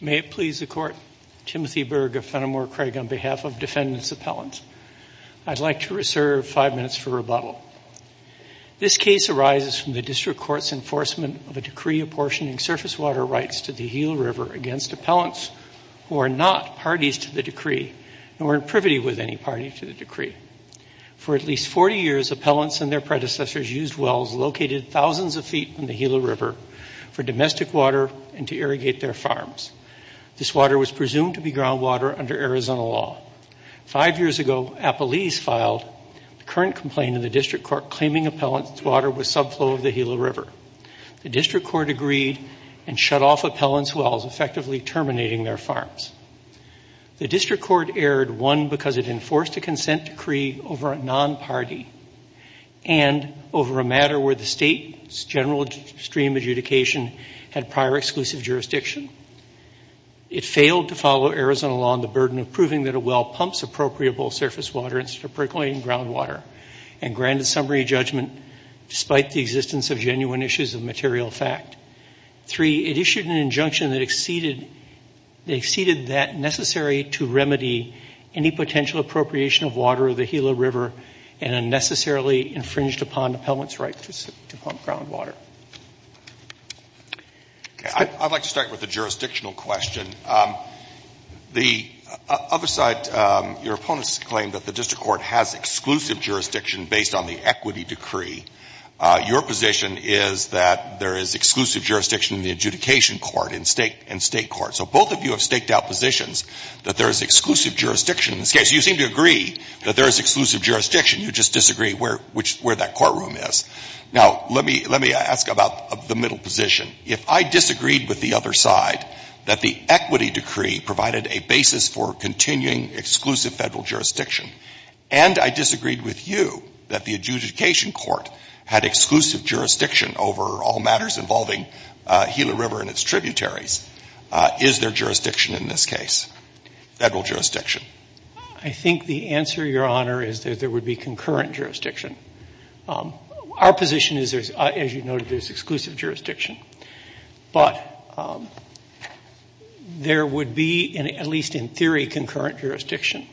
May it please the court, Timothy Berg of Fenimore Craig on behalf of defendants' appellants, I'd like to reserve five minutes for rebuttal. This case arises from the district court's enforcement of a decree apportioning surface water rights to the Gila River against appellants who are not parties to the decree and weren't privy with any party to the decree. For at least 40 years, appellants and their predecessors used wells located thousands of feet from the Gila River for domestic water and to irrigate their farms. This water was presumed to be groundwater under Arizona law. Five years ago, Appalachia filed a current complaint in the district court claiming appellant's water was subflow of the Gila River. The district court agreed and shut off appellant's wells, effectively terminating their farms. The district court erred, one, because it enforced a consent decree over a non-party and over a matter where the state's general stream adjudication had prior exclusive jurisdiction. It failed to follow Arizona law on the burden of proving that a well pumps appropriable surface water into percolating groundwater and granted summary judgment despite the existence of genuine issues of material fact. Three, it issued an injunction that exceeded that necessary to remedy any potential appropriation of water of the Gila River and unnecessarily infringed upon appellant's right to pump groundwater. I'd like to start with a jurisdictional question. The other side, your opponents claim that the district court has exclusive jurisdiction based on the equity decree. Your position is that there is exclusive jurisdiction in the adjudication court and state court. So both of you have staked out positions that there is exclusive jurisdiction. In this case, you seem to agree that there is exclusive jurisdiction. You just disagree where that courtroom is. Now, let me ask about the middle position. If I disagreed with the other side that the equity decree provided a basis for continuing exclusive federal jurisdiction and I disagreed with you that the adjudication court had exclusive jurisdiction over all matters involving Gila River and its tributaries, is there jurisdiction in this case, federal jurisdiction? I think the answer, your honor, is that there would be concurrent jurisdiction. Our position is, as you noted, there's exclusive jurisdiction. But there would be, at least in theory, concurrent jurisdiction.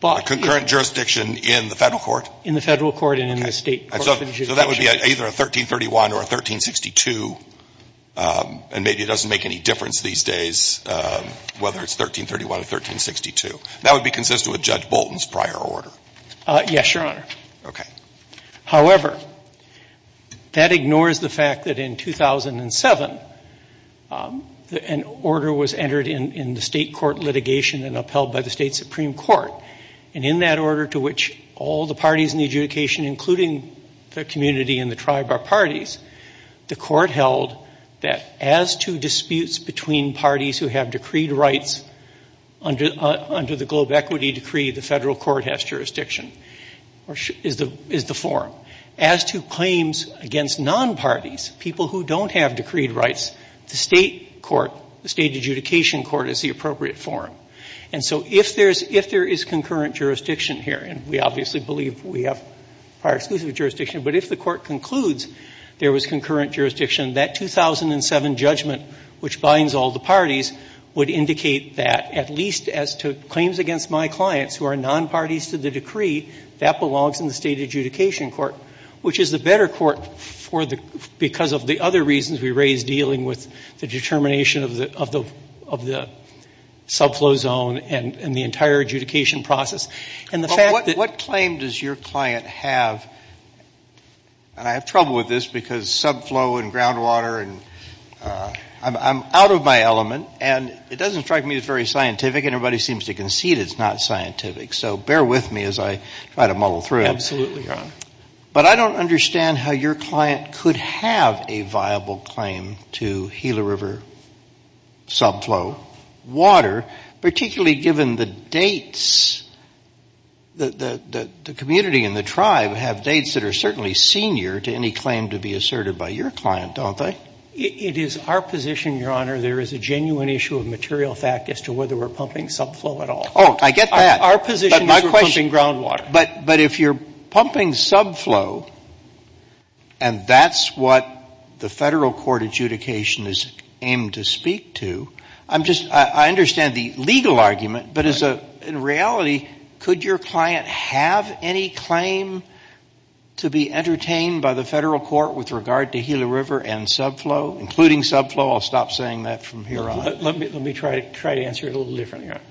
Concurrent jurisdiction in the federal court? In the federal court and in the state court. So that would be either a 1331 or a 1362, and maybe it doesn't make any difference these days whether it's 1331 or 1362. That would be consistent with Judge Bolton's prior order. Yes, your honor. Okay. However, that ignores the fact that in 2007, an order was entered in the state court litigation and upheld by the state supreme court. And in that order to which all the parties in the adjudication, including the community and the tribe are parties, the court held that as to disputes between parties who have decreed rights under the global equity decree, the federal court has jurisdiction, is the forum. As to claims against non-parties, people who don't have decreed rights, the state court, the state adjudication court is the appropriate forum. And so if there is concurrent jurisdiction here, and we obviously believe we have our exclusive jurisdiction, but if the court concludes there was concurrent jurisdiction, that 2007 judgment, which binds all the parties, would indicate that at least as to claims against my clients who are non-parties to the decree, that belongs in the state adjudication court, which is the better court because of the other reasons we raised dealing with the determination of the subflow zone and the entire adjudication process. What claim does your client have, and I have trouble with this because subflow and groundwater and I'm out of my element, and it doesn't strike me as very scientific, and everybody seems to concede it's not scientific, so bear with me as I try to muddle through it. But I don't understand how your client could have a viable claim to Gila River subflow water, particularly given the dates, the community and the tribe have dates that are certainly senior to any claim to be asserted by your client, don't they? It is our position, Your Honor, there is a genuine issue of material fact as to whether we're pumping subflow at all. Oh, I get that. Our position is we're pumping groundwater. But if you're pumping subflow, and that's what the federal court adjudication is aimed to speak to, I'm just, I understand the legal argument, but in reality, could your client have any claim to be entertained by the federal court with regard to Gila River and subflow, including subflow, I'll stop saying that from here on. Let me try to answer it a little different, Your Honor.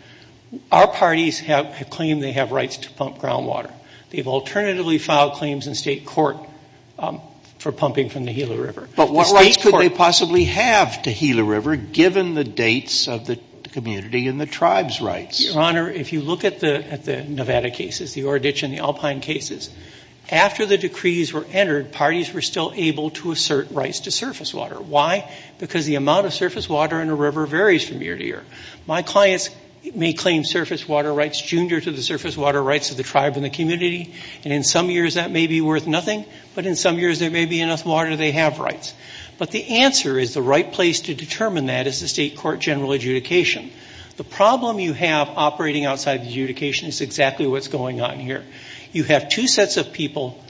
Our parties have claimed they have rights to pump groundwater. They've alternatively filed claims in state court for pumping from the Gila River. But what rights could they possibly have to Gila River, given the dates of the community and the tribe's rights? Your Honor, if you look at the Nevada cases, the Ore Ditch and the Alpine cases, after the decrees were entered, parties were still able to assert rights to surface water. Why? Because the amount of surface water in a river varies from year to year. My clients may claim surface water rights junior to the surface water rights of the tribe and the community, and in some years that may be worth nothing, but in some years there may be enough water they have rights. But the answer is the right place to determine that is the state court general adjudication. The problem you have operating outside the adjudication is exactly what's going on here. You have two sets of people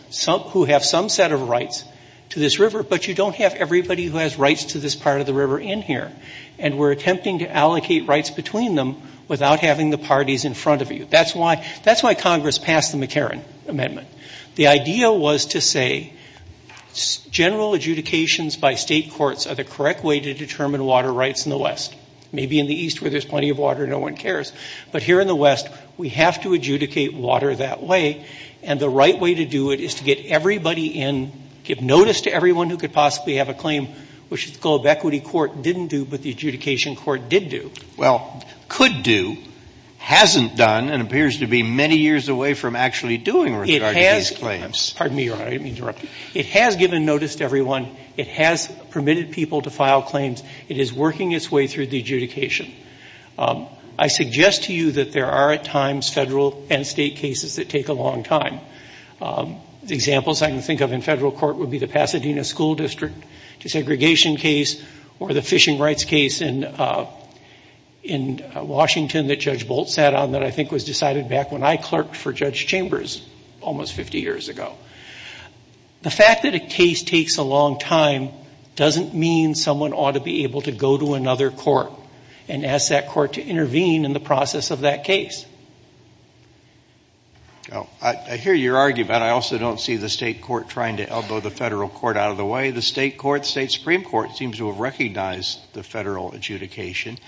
who have some set of rights to this river, but you don't have everybody who has rights to this part of the river in here, and we're attempting to allocate rights between them without having the parties in front of you. That's why Congress passed the McCarran Amendment. The idea was to say general adjudications by state courts are the correct way to determine water rights in the West. Maybe in the East where there's plenty of water, no one cares, but here in the West we have to adjudicate water that way, and the right way to do it is to get everybody in, give notice to everyone who could possibly have a claim, which the School of Equity Court didn't do, but the adjudication court did do. Well, could do, hasn't done, and appears to be many years away from actually doing those claims. Pardon me, I didn't mean to interrupt. It has given notice to everyone, it has permitted people to file claims, it is working its way through the adjudication. I suggest to you that there are at times federal and state cases that take a long time. The examples I can think of in federal court would be the Pasadena School District desegregation case or the fishing rights case in Washington that Judge Bolt sat on that I think was decided back when I clerked for Judge Chambers almost 50 years ago. The fact that a case takes a long time doesn't mean someone ought to be able to go to another court and ask that court to intervene in the process of that case. I hear your argument, I also don't see the state court trying to elbow the federal court out of the way. The state court, state supreme court seems to have recognized the federal adjudication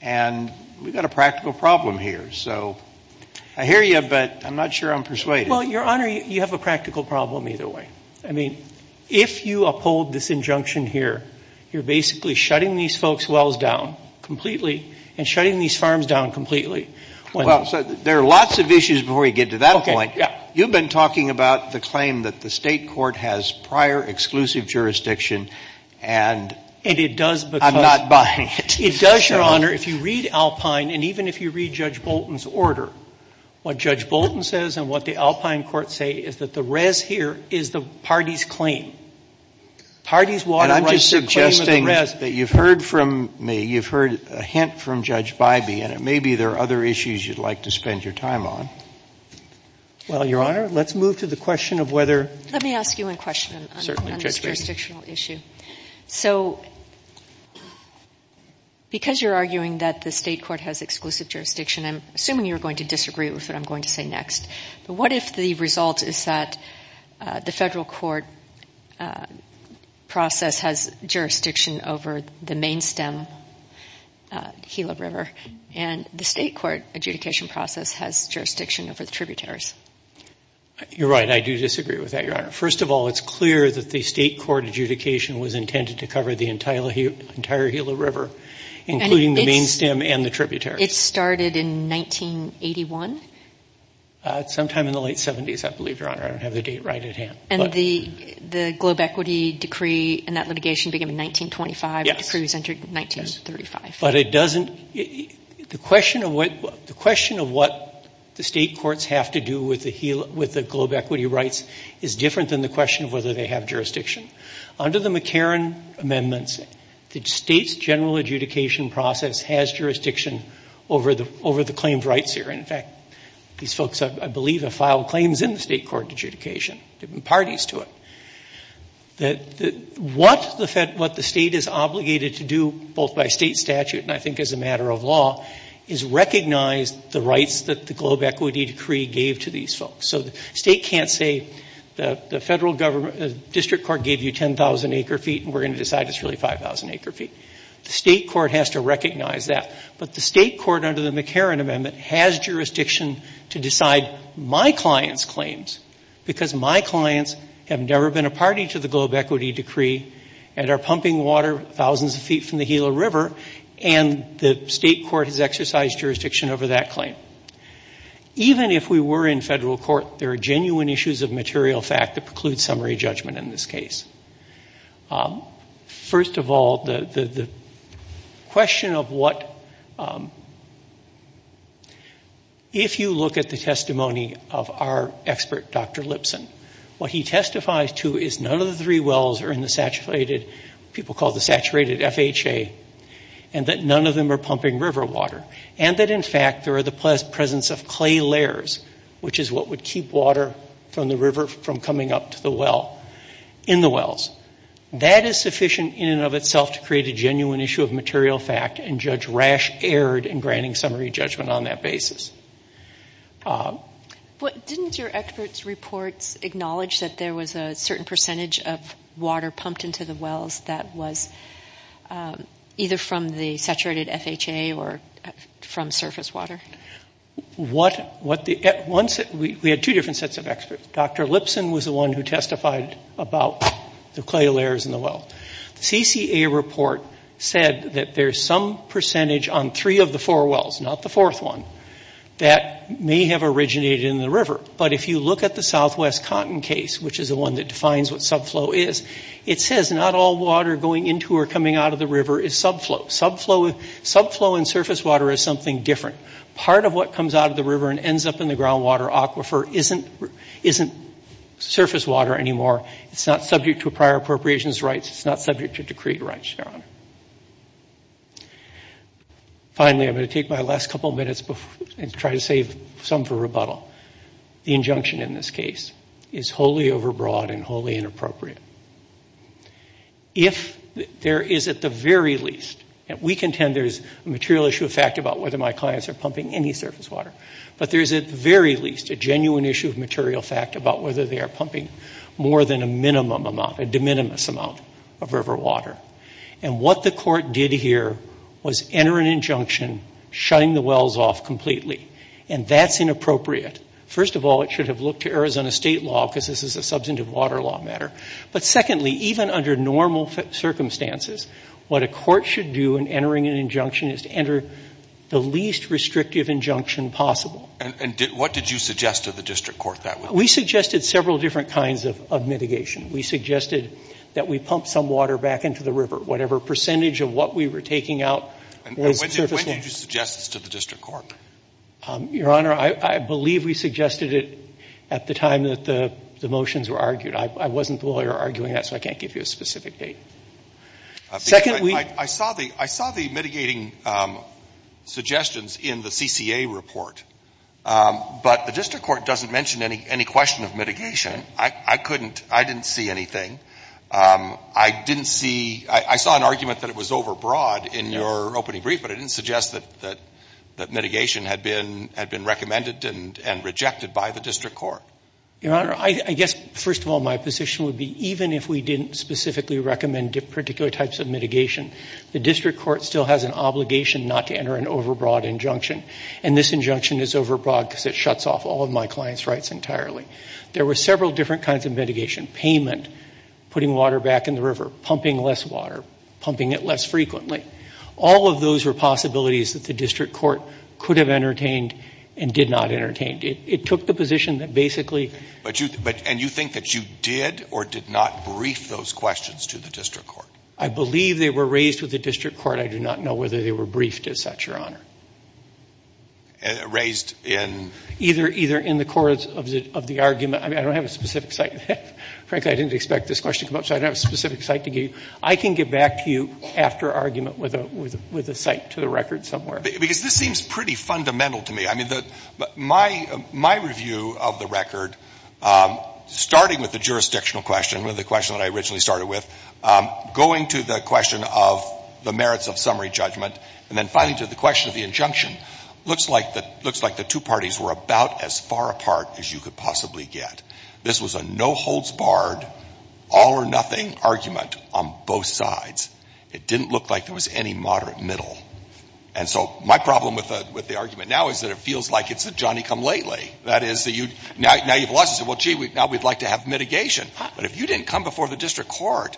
and we've got a practical problem here, so I hear you, but I'm not sure I'm persuaded. Well, your honor, you have a practical problem either way. I mean, if you uphold this injunction here, you're basically shutting these folks' wells down completely and shutting these farms down completely. Well, there are lots of issues before we get to that point. You've been talking about the claim that the state court has prior exclusive jurisdiction and I'm not buying it. It does, your honor, if you read Alpine and even if you read Judge Bolton's order, what Judge Bolton says and what the Alpine courts say is that the res here is the party's claim. And I'm just suggesting that you've heard from me, you've heard a hint from Judge Bybee and it may be there are other issues you'd like to spend your time on. Well, your honor, let's move to the question of whether... Let me ask you a question on this jurisdictional issue. So, because you're arguing that the state court has exclusive jurisdiction, I'm assuming you're going to disagree with what I'm going to say next. What if the result is that the federal court process has jurisdiction over the main stem, the Keelah River, and the state court adjudication process has jurisdiction over the tributaries? You're right. I do disagree with that, your honor. First of all, it's clear that the state court adjudication was intended to cover the entire Keelah River, including the main stem and the tributaries. It started in 1981? Sometime in the late 70s, I believe, your honor. I don't have the date right at hand. And the globe equity decree and that litigation began in 1925. Yes. The decree was entered in 1935. But it doesn't... The question of what the state courts have to do with the globe equity rights is different than the question of whether they have jurisdiction. Under the McCarran amendments, the state's general adjudication process has jurisdiction over the claims rights here. In fact, these folks, I believe, have filed claims in the state court adjudication. There have been parties to it. What the state is obligated to do, both by state statute and I think as a matter of law, is recognize the rights that the globe equity decree gave to these folks. So the state can't say the federal government, the district court gave you 10,000 acre feet and we're going to decide it's really 5,000 acre feet. The state court has to recognize that. But the state court under the McCarran amendment has jurisdiction to decide my client's claims because my clients have never been a party to the globe equity decree and are pumping water thousands of feet from the Gila River and the state court has exercised jurisdiction over that claim. Even if we were in federal court, there are genuine issues of material fact that preclude summary judgment in this case. First of all, the question of what... If you look at the testimony of our expert, Dr. Lipson, what he testifies to is none of the three wells are in the saturated, people call it the saturated FHA, and that none of them are pumping river water. And that in fact there are the presence of clay layers, which is what would keep water from the river from coming up to the well, in the wells. That is sufficient in and of itself to create a genuine issue of material fact and Judge Rash erred in granting summary judgment on that basis. Didn't your experts report acknowledge that there was a certain percentage of water pumped into the wells that was either from the saturated FHA or from surface water? We had two different sets of experts. Dr. Lipson was the one who testified about the clay layers in the well. CCA report said that there is some percentage on three of the four wells, not the fourth one, that may have originated in the river. But if you look at the southwest cotton case, which is the one that defines what subflow is, it says not all water going into or coming out of the river is subflow. Subflow and surface water is something different. Part of what comes out of the river and ends up in the groundwater aquifer isn't surface water anymore. It's not subject to prior appropriations rights. It's not subject to decree. Finally, I'm going to take my last couple of minutes and try to save some for rebuttal. The injunction in this case is wholly overbroad and wholly inappropriate. If there is at the very least, we contend there is a material issue of fact about whether my clients are pumping any surface water, but there is at the very least a genuine issue of material fact about whether they are pumping more than a minimum amount, a de minimis amount of river water. And what the court did here was enter an injunction, shine the wells off completely. And that's inappropriate. First of all, it should have looked to Arizona state law because this is a substantive water law matter. But secondly, even under normal circumstances, what a court should do in entering an injunction is to enter the least restrictive injunction possible. And what did you suggest to the district court that way? We suggested several different kinds of mitigation. We suggested that we pump some water back into the river, whatever percentage of what we were taking out. When did you suggest this to the district court? Your Honor, I believe we suggested it at the time that the motions were argued. I wasn't the lawyer arguing that, so I can't give you a specific date. I saw the mitigating suggestions in the CCA report. But the district court doesn't mention any question of mitigation. I couldn't, I didn't see anything. I didn't see, I saw an argument that it was overbroad in your opening brief, but it didn't suggest that mitigation had been recommended and rejected by the district court. Your Honor, I guess, first of all, my position would be even if we didn't specifically recommend particular types of mitigation, the district court still has an obligation not to enter an overbroad injunction. And this injunction is overbroad because it shuts off all of my client's rights entirely. There were several different kinds of mitigation. Payment, putting water back in the river, pumping less water, pumping it less frequently. All of those were possibilities that the district court could have entertained and did not entertain. It took the position that basically... And you think that you did or did not brief those questions to the district court? I believe they were raised with the district court. I do not know whether they were briefed as such, Your Honor. Raised in... Either in the course of the argument. I don't have a specific site. Frankly, I didn't expect this question to come up, so I don't have a specific site to give you. I can get back to you after argument with a site to the record somewhere. Because this seems pretty fundamental to me. I mean, my review of the record, starting with the jurisdictional question, the question that I originally started with, going to the question of the merits of summary judgment, and then finally to the question of the injunction, looks like the two parties were about as far apart as you could possibly get. This was a no-holds-barred, all-or-nothing argument on both sides. It didn't look like there was any moderate middle. And so my problem with the argument now is that it feels like it's a Johnny-come-lately. That is, now you've lost it. Well, gee, now we'd like to have mitigation. But if you didn't come before the district court,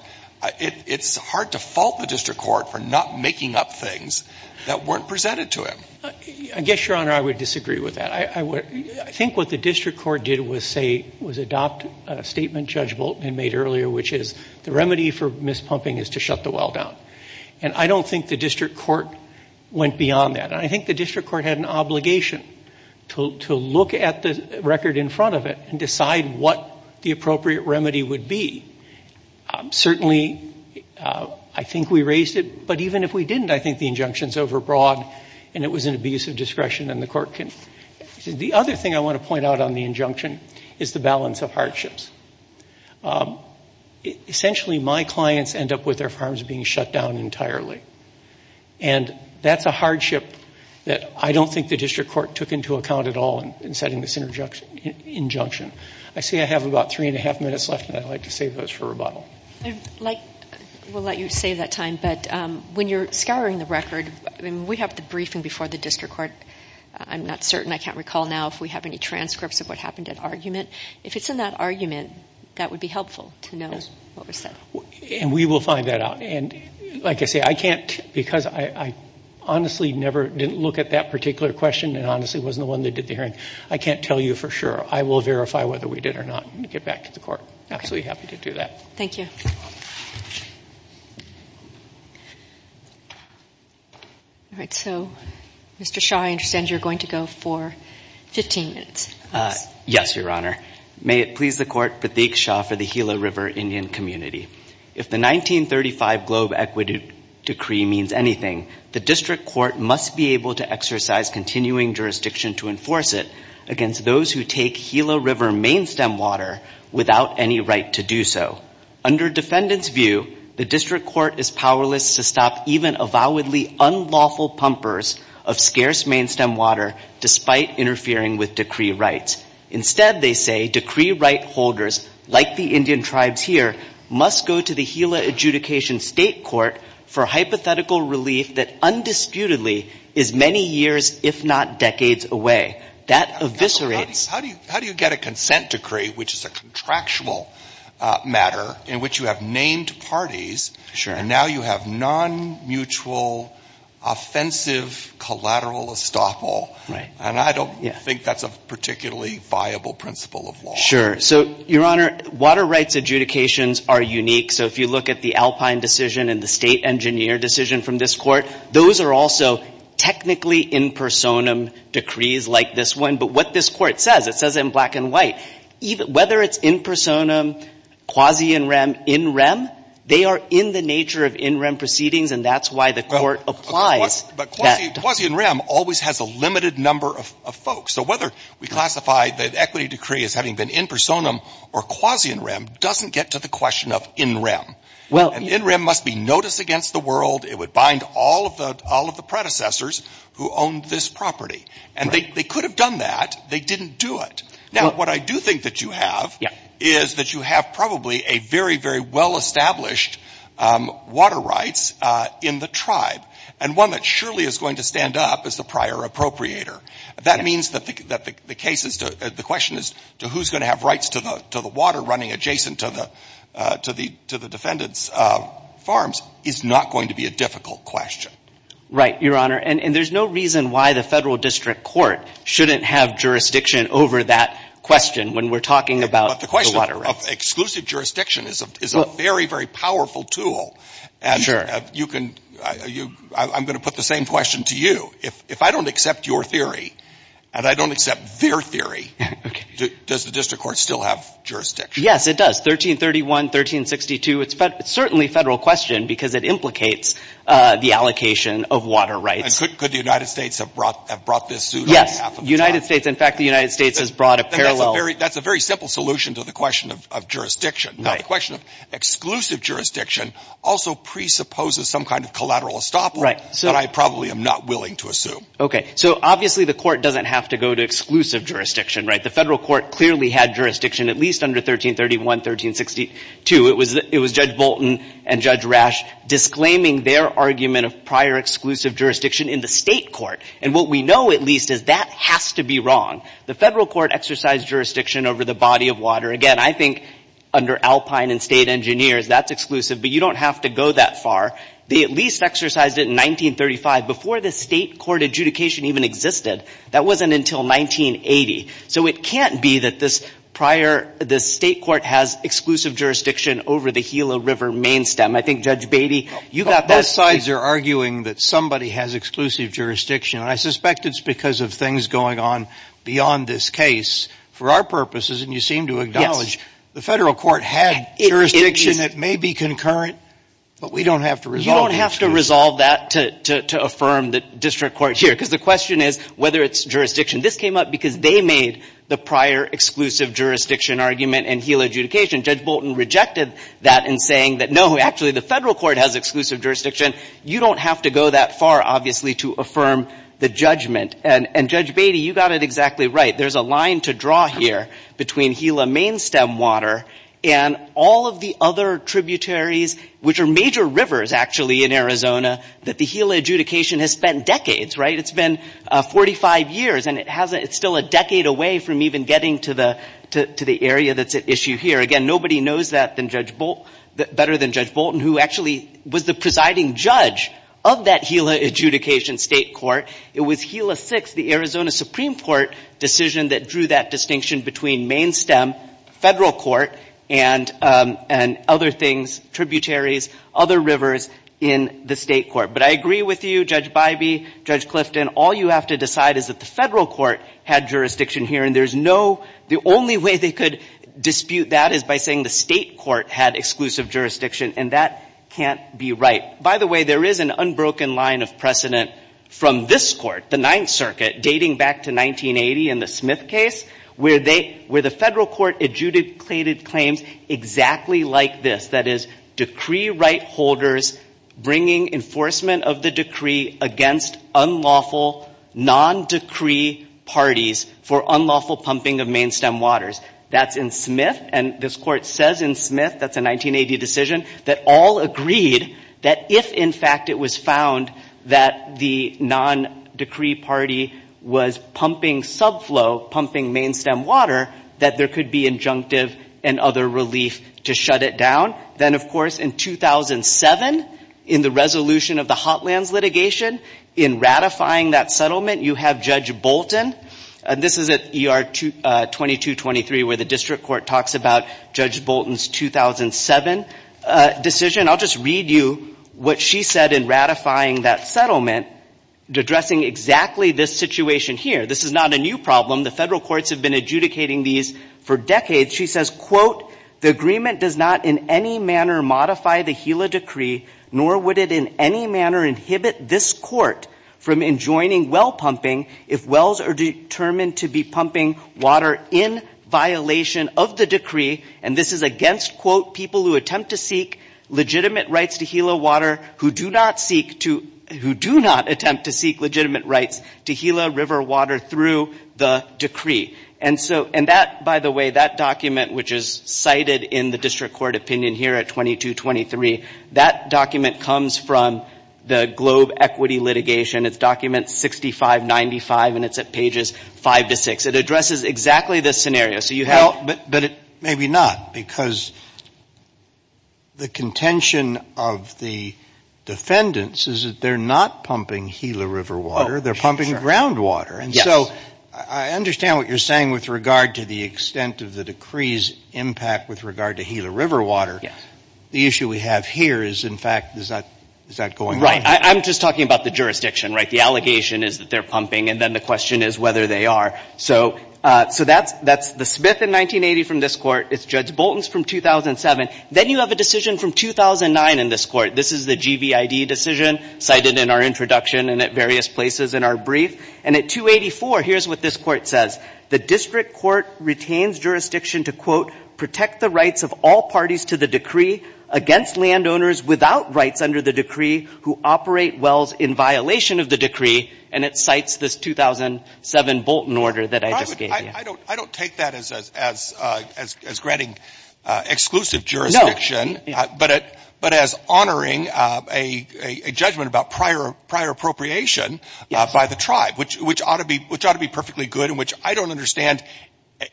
it's hard to fault the district court for not making up things that weren't presented to him. I guess, Your Honor, I would disagree with that. I think what the district court did was adopt a statement Judge Bolton made earlier, which is the remedy for mispumping is to shut the well down. And I don't think the district court went beyond that. I think the district court had an obligation to look at the record in front of it and decide what the appropriate remedy would be. Certainly, I think we raised it. But even if we didn't, I think the injunction's overbroad and it was an abuse of discretion and the court can... The other thing I want to point out on the injunction is the balance of hardships. Essentially, my clients end up with their farms being shut down entirely. And that's a hardship that I don't think the district court took into account at all in setting this injunction. I see I have about three-and-a-half minutes left, and I'd like to save those for rebuttal. We'll let you save that time. But when you're scouring the record, we have the briefing before the district court. I'm not certain. I can't recall now if we have any transcripts of what happened at argument. If it's in that argument, that would be helpful to know. And we will find that out. And like I say, I can't because I honestly never did look at that particular question and honestly wasn't the one they did the hearing. I can't tell you for sure. I will verify whether we did or not and get back to the court. Absolutely happy to do that. Thank you. All right. So, Mr. Shaw, I understand you're going to go for 15 minutes. Yes, Your Honor. May it please the court to speak, Shaw, for the Gila River Indian community. If the 1935 Globe Equity Decree means anything, the district court must be able to exercise continuing jurisdiction to enforce it against those who take Gila River main stem water without any right to do so. Under defendant's view, the district court is powerless to stop even avowedly unlawful pumpers of scarce main stem water despite interfering with decree rights. Instead, they say decree right holders, like the Indian tribes here, must go to the Gila River adjudication state court for hypothetical relief that undisputedly is many years, if not decades away. That eviscerates... How do you get a consent decree, which is a contractual matter in which you have named parties and now you have non-mutual offensive collateral estoppel? And I don't think that's a particularly viable principle of law. Sure. So, Your Honor, water rights adjudications are unique. So, if you look at the Alpine decision and the state engineer decision from this court, those are also technically in personam decrees like this one. But what this court says, it says in black and white, whether it's in personam, quasi in rem, in rem, they are in the nature of in rem proceedings and that's why the court applies. But quasi in rem always has a limited number of folks. So, whether we classify the equity decree as having been in personam or quasi in rem doesn't get to the question of in rem. In rem must be noticed against the world. It would bind all of the predecessors who owned this property. And they could have done that. They didn't do it. Now, what I do think that you have is that you have probably a very, very well-established water rights in the tribe and one that surely is going to stand up as the prior appropriator. That means that the question is who's going to have rights to the water running adjacent to the defendant's farms is not going to be a difficult question. Right, Your Honor. And there's no reason why the federal district court shouldn't have jurisdiction over that question when we're talking about the water rights. But the question of exclusive jurisdiction is a very, very powerful tool. I'm going to put the same question to you. If I don't accept your theory and I don't accept their theory, does the district court still have jurisdiction? Yes, it does. 1331, 1362, it's certainly a federal question because it implicates the allocation of water rights. And could the United States have brought this suit on behalf of the tribe? Yes, the United States, in fact, the United States has brought a parallel. That's a very simple solution to the question of jurisdiction. Now, the question of exclusive jurisdiction also presupposes some kind of collateral estoppel that I probably am not willing to assume. Okay, so obviously the court doesn't have to go to exclusive jurisdiction, right? The federal court clearly had jurisdiction at least under 1331, 1362. It was Judge Bolton and Judge Rash disclaiming their argument of prior exclusive jurisdiction in the state court. And what we know, at least, is that has to be wrong. The federal court exercised jurisdiction over the body of water. Again, I think under Alpine and state engineers, that's exclusive, but you don't have to go that far. They at least exercised it in 1935, before the state court adjudication even existed. That wasn't until 1980. So it can't be that this state court has exclusive jurisdiction over the Gila River main stem. I think Judge Beatty, you got that. Both sides are arguing that somebody has exclusive jurisdiction. And I suspect it's because of things going on beyond this case. For our purposes, and you seem to acknowledge, the federal court had jurisdiction. It may be concurrent, but we don't have to resolve it. You don't have to resolve that to affirm the district court here. Because the question is whether it's jurisdiction. This came up because they made the prior exclusive jurisdiction argument in Gila adjudication. Judge Bolton rejected that in saying that no, actually, the federal court has exclusive jurisdiction. You don't have to go that far, obviously, to affirm the judgment. And Judge Beatty, you got it exactly right. There's a line to draw here between Gila main stem water and all of the other tributaries, which are major rivers, actually, in Arizona, that the Gila adjudication has spent decades. It's been 45 years, and it's still a decade away from even getting to the area that's at issue here. Again, nobody knows that better than Judge Bolton, who actually was the presiding judge of that Gila adjudication state court. It was Gila 6, the Arizona Supreme Court, decision that drew that distinction between main stem, federal court, and other things, tributaries, other rivers in the state court. But I agree with you, Judge Bybee, Judge Clifton, all you have to decide is that the federal court had jurisdiction here. And there's no, the only way they could dispute that is by saying the state court had exclusive jurisdiction. And that can't be right. By the way, there is an unbroken line of precedent from this court, the Ninth Circuit, dating back to 1980 in the Smith case, where the federal court adjudicated claims exactly like this, that is, decree right holders bringing enforcement of the decree against unlawful non-decree parties for unlawful pumping of main stem waters. That's in Smith, and this court says in Smith, that's a 1980 decision, that all agreed that if, in fact, it was found that the non-decree party was pumping subflow, pumping main stem water, that there could be injunctive and other relief to shut it down. Then, of course, in 2007, in the resolution of the Hotlands litigation, in ratifying that settlement, you have Judge Bolton, and this is at ER 2223 where the district court talks about Judge Bolton's 2007 decision. I'll just read you what she said in ratifying that settlement addressing exactly this situation here. This is not a new problem. The federal courts have been adjudicating these for decades. She says, quote, the agreement does not in any manner modify the Gila decree, nor would it in any manner inhibit this court from enjoining well pumping if wells are determined to be pumping water in violation of the decree, and this is against, quote, people who attempt to seek legitimate rights to Gila water who do not attempt to seek legitimate rights to Gila river water through the decree. By the way, that document, which is cited in the district court opinion here at 2223, that document comes from the Globe equity litigation. It's document 6595, and it's at pages 5 to 6. It addresses exactly this scenario. Maybe not, because the contention of the defendants is that they're not pumping Gila river water. They're pumping groundwater, and so I understand what you're saying with regard to the extent of the decree's impact with regard to Gila river water. The issue we have here is, in fact, is that going right? I'm just talking about the jurisdiction, right? The allegation is that they're pumping, and then the question is whether they are. So that's the Smith in 1980 from this court. It's Judge Bolton's from 2007. Then you have a decision from 2009 in this court. This is the GVID decision cited in our introduction and at various places in our brief, and at 284, here's what this court says. The district court retains jurisdiction to, quote, protect the rights of all parties to the decree against landowners without rights under the decree who operate wells in violation of the decree, and it cites this 2007 Bolton order that I just gave you. I don't take that as granting exclusive jurisdiction, but as honoring a judgment about prior appropriation by the tribe, which ought to be perfectly good and which I don't understand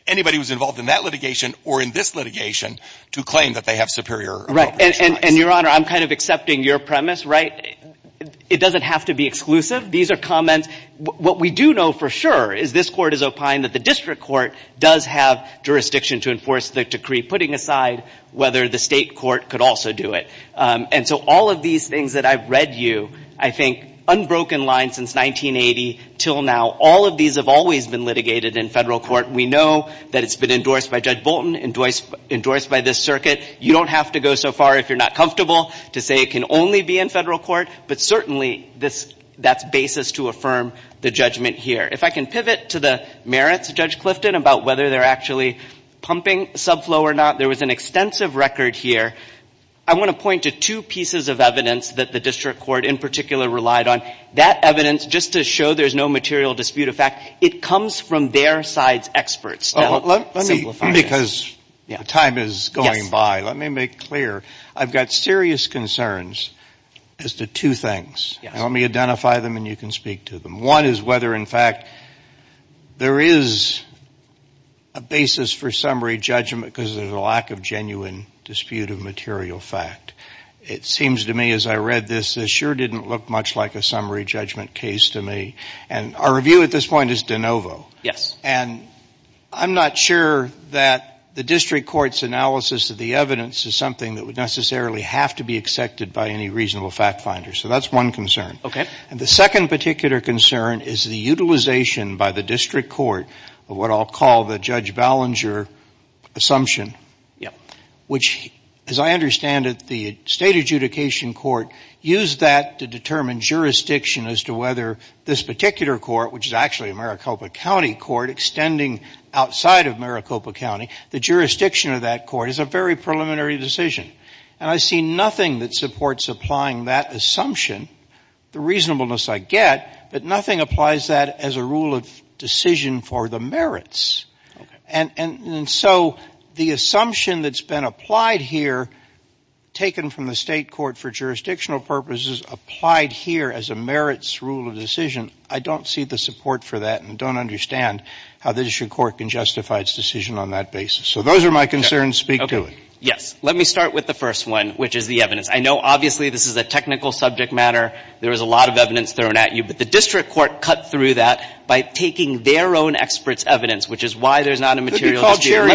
anybody who's involved in that litigation or in this litigation to claim that they have superior appropriation. And, Your Honor, I'm kind of accepting your premise, right? It doesn't have to be exclusive. These are comments. What we do know for sure is this court has opined that the district court does have jurisdiction to enforce the decree, putting aside whether the state court could also do it. And so all of these things that I've read you, I think, unbroken line since 1980 until now, all of these have always been litigated in federal court. We know that it's been endorsed by Judge Bolton, endorsed by this circuit. You don't have to go so far if you're not comfortable to say it can only be in federal court, but certainly that's basis to affirm the judgment here. If I can pivot to the merits, Judge Clifton, about whether they're actually pumping subflow or not. There was an extensive record here. I want to point to two pieces of evidence that the district court in particular relied on. That evidence, just to show there's no material dispute of fact, it comes from their side's experts. Because time is going by, let me make clear. I've got serious concerns as to two things. Let me identify them and you can speak to them. One is whether, in fact, there is a basis for summary judgment because of the lack of genuine dispute of material fact. It seems to me as I read this, this sure didn't look much like a summary judgment case to me. And our review at this point is de novo. And I'm not sure that the district court's analysis of the evidence is something that would necessarily have to be accepted by any reasonable fact finder. So that's one concern. And the second particular concern is the utilization by the district court of what I'll call the Judge Ballinger assumption. Which, as I understand it, the state adjudication court used that to determine jurisdiction as to whether this particular court, which is actually a Maricopa County court extending outside of Maricopa County, the jurisdiction of that court is a very preliminary decision. And I see nothing that supports applying that assumption, the reasonableness I get, but nothing applies that as a rule of decision for the merits. And so the assumption that's been applied here, taken from the state court for jurisdictional purposes, is applied here as a merits rule of decision. I don't see the support for that and don't understand how the district court can justify its decision on that basis. So those are my concerns. Speak to it. Yes. Let me start with the first one, which is the evidence. I know obviously this is a technical subject matter. There is a lot of evidence thrown at you, but the district court cut through that by taking their own experts' evidence, which is why there's not a material here. Well, you're using their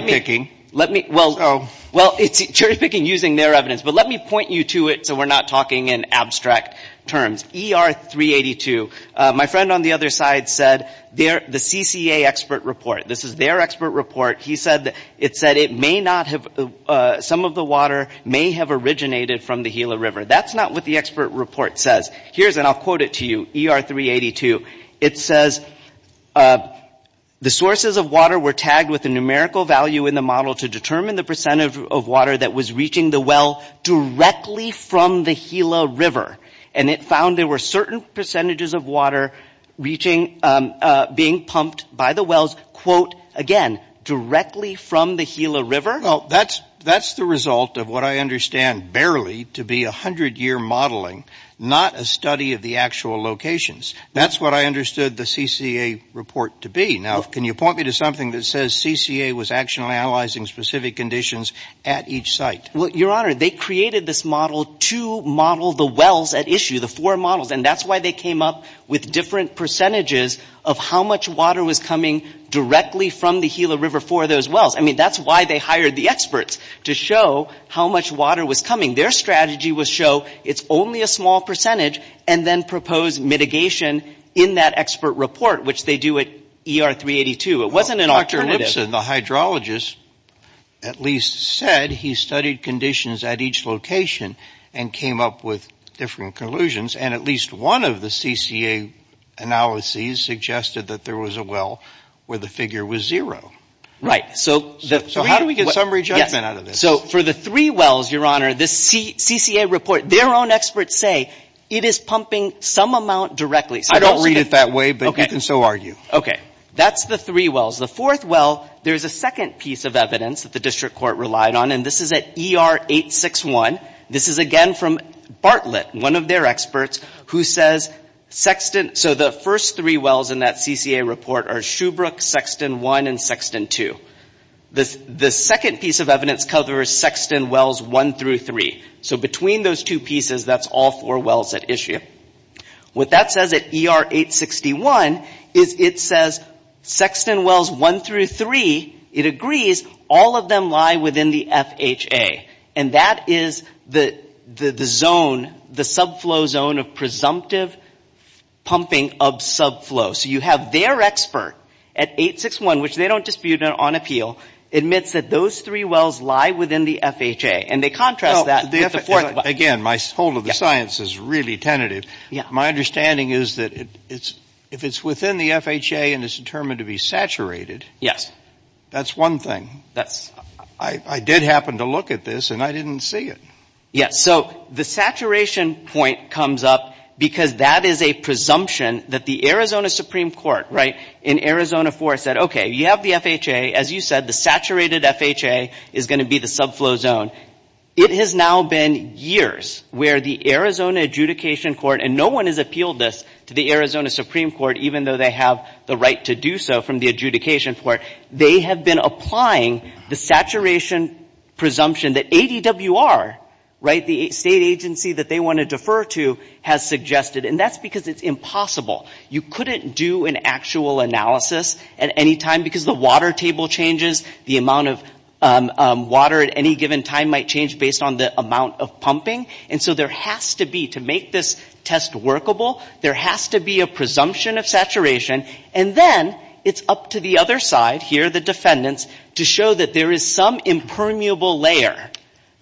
evidence, but let me point you to it so we're not talking in abstract terms. ER 382, my friend on the other side said the CCA expert report, this is their expert report, he said it may not have, some of the water may have originated from the Gila River. That's not what the expert report says. Here's, and I'll quote it to you, ER 382. It says, the sources of water were tagged with a numerical value in the model to determine the percent of water that was reaching the well directly from the Gila River. And it found there were certain percentages of water reaching, being pumped by the wells, quote, again, directly from the Gila River? Well, that's the result of what I understand barely to be 100-year modeling, not a study of the actual locations. That's what I understood the CCA report to be. Now, can you point me to something that says CCA was actually analyzing specific conditions at each site? Well, Your Honor, they created this model to model the wells at issue, the four models, and that's why they came up with different percentages of how much water was coming directly from the Gila River for those wells. I mean, that's why they hired the experts, to show how much water was coming. Their strategy was to show it's only a small percentage and then propose mitigation in that expert report, which they do at ER 382. It wasn't an alternative. Dr. Nibson, the hydrologist, at least said he studied conditions at each location and came up with different conclusions, and at least one of the CCA analyses suggested that there was a well where the figure was zero. Right. So how do we get some rejection out of this? So for the three wells, Your Honor, this CCA report, their own experts say it is pumping some amount directly. I don't read it that way, but you can so argue. Okay. That's the three wells. The fourth well, there's a second piece of evidence that the district court relied on, and this is at ER 861. This is, again, from Bartlett, one of their experts, who says Sexton – so the first three wells in that CCA report are Shoebrook, Sexton 1, and Sexton 2. The second piece of evidence covers Sexton Wells 1 through 3. So between those two pieces, that's all four wells at issue. What that says at ER 861 is it says Sexton Wells 1 through 3, it agrees, all of them lie within the FHA, and that is the zone, the subflow zone of presumptive pumping of subflow. So you have their expert at 861, which they don't dispute on appeal, admits that those three wells lie within the FHA, and they contrast that. Again, my hold of the science is really tentative. My understanding is that if it's within the FHA and it's determined to be saturated, that's one thing. I did happen to look at this, and I didn't see it. So the saturation point comes up because that is a presumption that the Arizona Supreme Court in Arizona 4 said, okay, you have the FHA. As you said, the saturated FHA is going to be the subflow zone. It has now been years where the Arizona Adjudication Court, and no one has appealed this to the Arizona Supreme Court, even though they have the right to do so from the Adjudication Court. They have been applying the saturation presumption that ADWR, the state agency that they want to defer to, has suggested, and that's because it's impossible. You couldn't do an actual analysis at any time because the water table changes. The amount of water at any given time might change based on the amount of pumping. And so there has to be, to make this test workable, there has to be a presumption of saturation. And then it's up to the other side, here the defendants, to show that there is some impermeable layer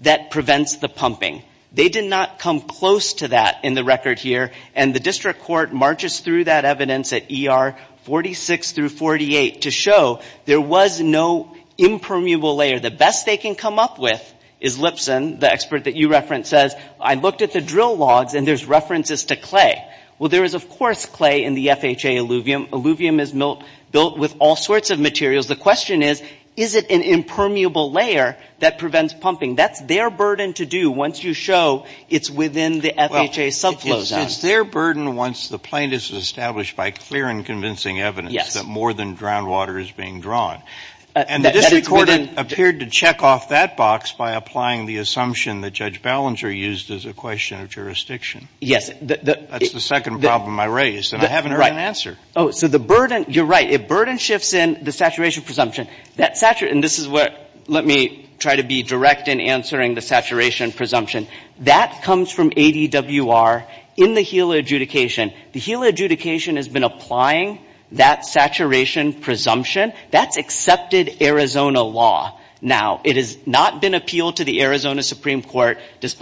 that prevents the pumping. They did not come close to that in the record here, and the district court marches through that evidence at ER 46 through 48 to show there was no impermeable layer. The best they can come up with is Lipson, the expert that you referenced, says, I looked at the drill logs and there's references to clay. Well, there is, of course, clay in the FHA alluvium. Alluvium is built with all sorts of materials. The question is, is it an impermeable layer that prevents pumping? That's their burden to do once you show it's within the FHA subflow zone. It's their burden once the plaintiff is established by clear and convincing evidence that more than groundwater is being drawn. And the district court appeared to check off that box by applying the assumption that Judge Ballenger used as a question of jurisdiction. Yes. That's the second problem I raised, and I haven't heard an answer. Oh, so the burden, you're right, a burden shifts in the saturation presumption. Let me try to be direct in answering the saturation presumption. That comes from ADWR in the HEAL adjudication. The HEAL adjudication has been applying that saturation presumption. That's accepted Arizona law now. It has not been appealed to the Arizona Supreme Court. It's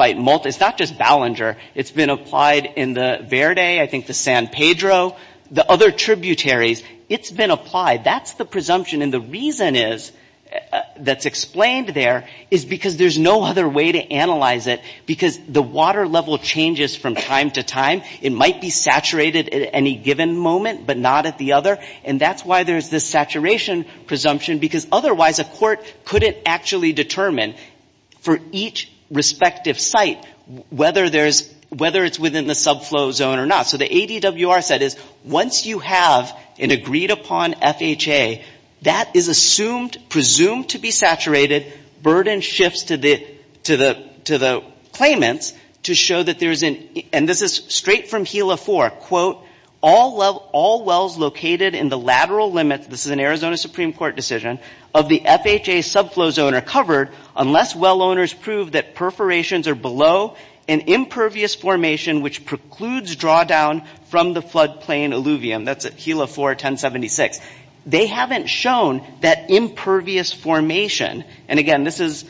not just Ballenger. It's been applied in the Verde, I think the San Pedro, the other tributaries. It's been applied. That's the presumption, and the reason that's explained there is because there's no other way to analyze it because the water level changes from time to time. It might be saturated at any given moment but not at the other, and that's why there's this saturation presumption because otherwise a court couldn't actually determine for each respective site whether it's within the subflow zone or not. So the ADWR said is once you have an agreed upon FHA, that is assumed to be saturated. Burden shifts to the claimants to show that there's an, and this is straight from HEAL-A-4, quote, all wells located in the lateral limit, this is an Arizona Supreme Court decision, of the FHA subflow zone are covered unless well owners prove that perforations are below an impervious formation which precludes drawdown from the floodplain alluvium. That's at HEAL-A-4 1076. They haven't shown that impervious formation, and again, this is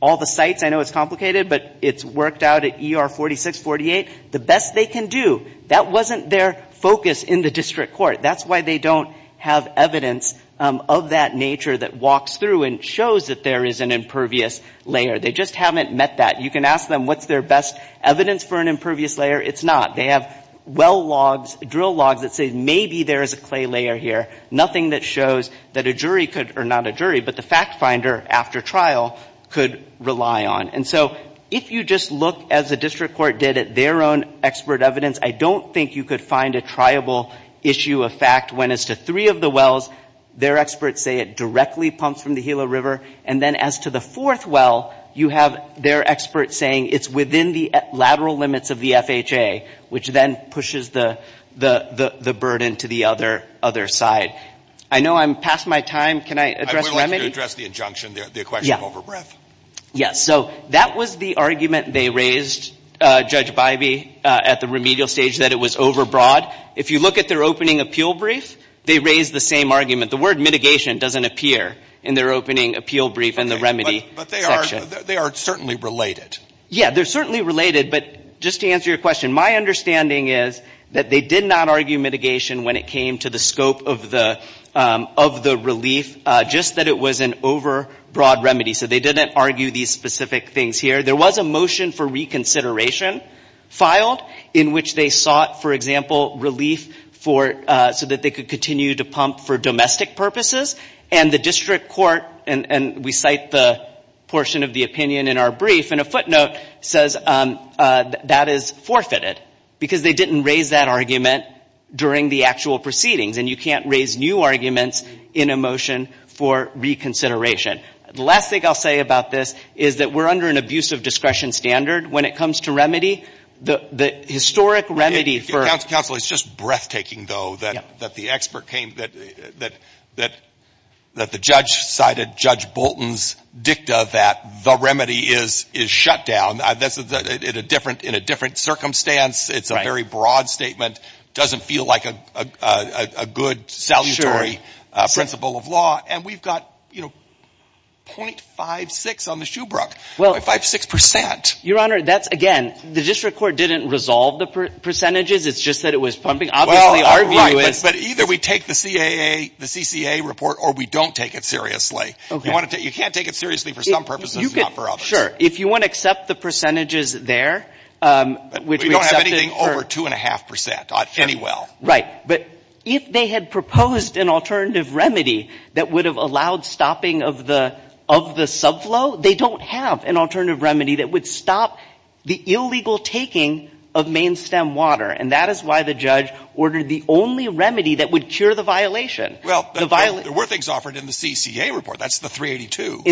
all the sites. I know it's complicated, but it's worked out at ER 46, 48. The best they can do. That wasn't their focus in the district court. That's why they don't have evidence of that nature that walks through and shows that there is an impervious layer. They just haven't met that. You can ask them what's their best evidence for an impervious layer. It's not. They have well logs, drill logs that say maybe there is a clay layer here. Nothing that shows that a jury could, or not a jury, but the fact finder after trial could rely on. And so if you just look as the district court did at their own expert evidence, I don't think you could find a triable issue of fact when it's the three of the wells, their experts say it directly pumps from the Gila River, and then as to the fourth well, you have their experts saying it's within the lateral limits of the FHA, which then pushes the burden to the other side. I know I'm past my time. Can I address one? I would like to address the injunction, the question of overbreath. Yes. So that was the argument they raised, Judge Bivey, at the remedial stage, that it was overbroad. If you look at their opening appeal brief, they raised the same argument. The word mitigation doesn't appear in their opening appeal brief in the remedy section. But they are certainly related. Yes, they're certainly related. But just to answer your question, my understanding is that they did not argue mitigation when it came to the scope of the relief, just that it was an overbroad remedy. So they didn't argue these specific things here. There was a motion for reconsideration filed in which they sought, for example, so that they could continue to pump for domestic purposes. And the district court, and we cite the portion of the opinion in our brief, in a footnote says that is forfeited because they didn't raise that argument during the actual proceedings. And you can't raise new arguments in a motion for reconsideration. The last thing I'll say about this is that we're under an abusive discretion standard. When it comes to remedy, the historic remedy for ---- It's just breathtaking, though, that the expert came, that the judge cited Judge Bolton's dicta that the remedy is shut down in a different circumstance. It's a very broad statement. It doesn't feel like a good, salutary principle of law. And we've got 0.56 on the Shoebrook, 0.56%. Your Honor, that's, again, the district court didn't resolve the percentages. It's just that it was pumping. Well, either we take the CAA, the CCA report, or we don't take it seriously. You can't take it seriously for some purposes and not for others. Sure, if you want to accept the percentages there. We don't have anything over 2.5%, any well. Right, but if they had proposed an alternative remedy that would have allowed stopping of the subflow, they don't have an alternative remedy that would stop the illegal taking of main stem water. And that is why the judge ordered the only remedy that would cure the violation. Well, there were things offered in the CCA report. That's the 382.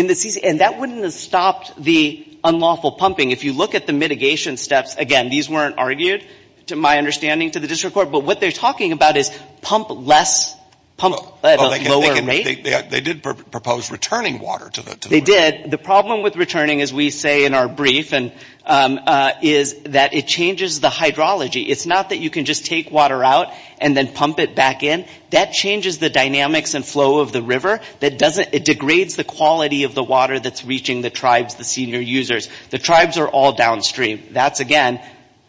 And that wouldn't have stopped the unlawful pumping. If you look at the mitigation steps, again, these weren't argued, to my understanding, to the district court. But what they're talking about is pump less, pump at a lower rate. They did propose returning water to the district. They did. And the problem with returning, as we say in our brief, is that it changes the hydrology. It's not that you can just take water out and then pump it back in. That changes the dynamics and flow of the river. It degrades the quality of the water that's reaching the tribes, the senior users. The tribes are all downstream. That's, again,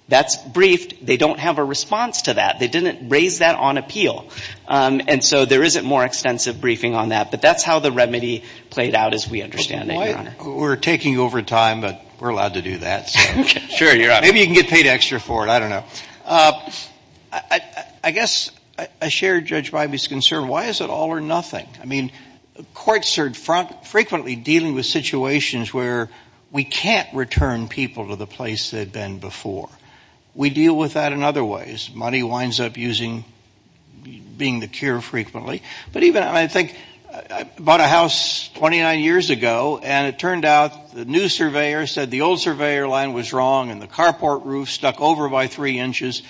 that's briefed. They don't have a response to that. They didn't raise that on appeal. And so there isn't more extensive briefing on that. But that's how the remedy played out, as we understand it, Your Honor. We're taking over time, but we're allowed to do that. Sure, you're right. Maybe you can get paid extra for it. I don't know. I guess I share Judge Bybee's concern. Why is it all or nothing? I mean, courts are frequently dealing with situations where we can't return people to the place they've been before. We deal with that in other ways. Money winds up being the cure frequently. But even, I think, I bought a house 29 years ago, and it turned out the new surveyor said the old surveyor line was wrong and the carport roof stuck over by three inches.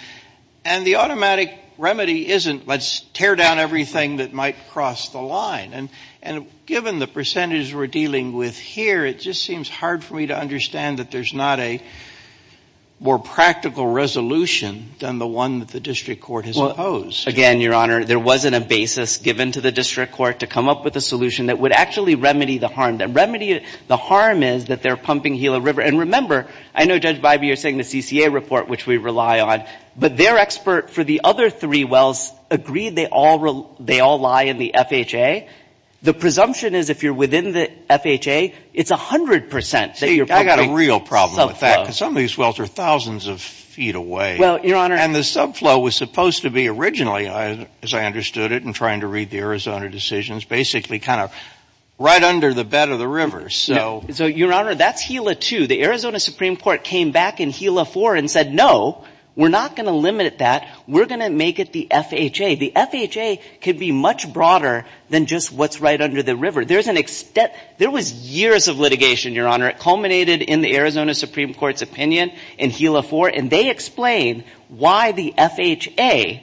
And the automatic remedy isn't let's tear down everything that might cross the line. And given the percentage we're dealing with here, it just seems hard for me to understand that there's not a more practical resolution than the one that the district court has imposed. Again, Your Honor, there wasn't a basis given to the district court to come up with a solution that would actually remedy the harm. The harm is that they're pumping Gila River. And remember, I know Judge Bybee is saying the CCA report, which we rely on, but their expert for the other three wells agreed they all lie in the FHA. The presumption is if you're within the FHA, it's 100%. I've got a real problem with that. Some of these wells are thousands of feet away. And the subflow was supposed to be originally, as I understood it, in trying to read the Arizona decisions, basically kind of right under the bed of the river. So, Your Honor, that's Gila 2. The Arizona Supreme Court came back in Gila 4 and said, no, we're not going to limit that. We're going to make it the FHA. The FHA could be much broader than just what's right under the river. There was years of litigation, Your Honor. It culminated in the Arizona Supreme Court's opinion in Gila 4, and they explained why the FHA,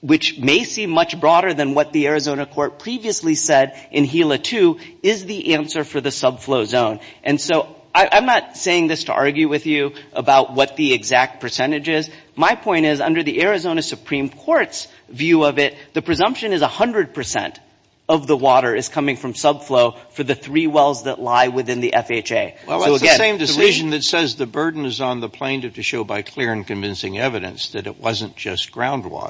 which may seem much broader than what the Arizona Court previously said in Gila 2, is the answer for the subflow zone. And so I'm not saying this to argue with you about what the exact percentage is. My point is, under the Arizona Supreme Court's view of it, the presumption is 100% of the water is coming from subflow for the three wells that lie within the FHA. Well, it's the same decision that says the burden is on the plaintiff to show by clear and convincing evidence that it wasn't just groundwater.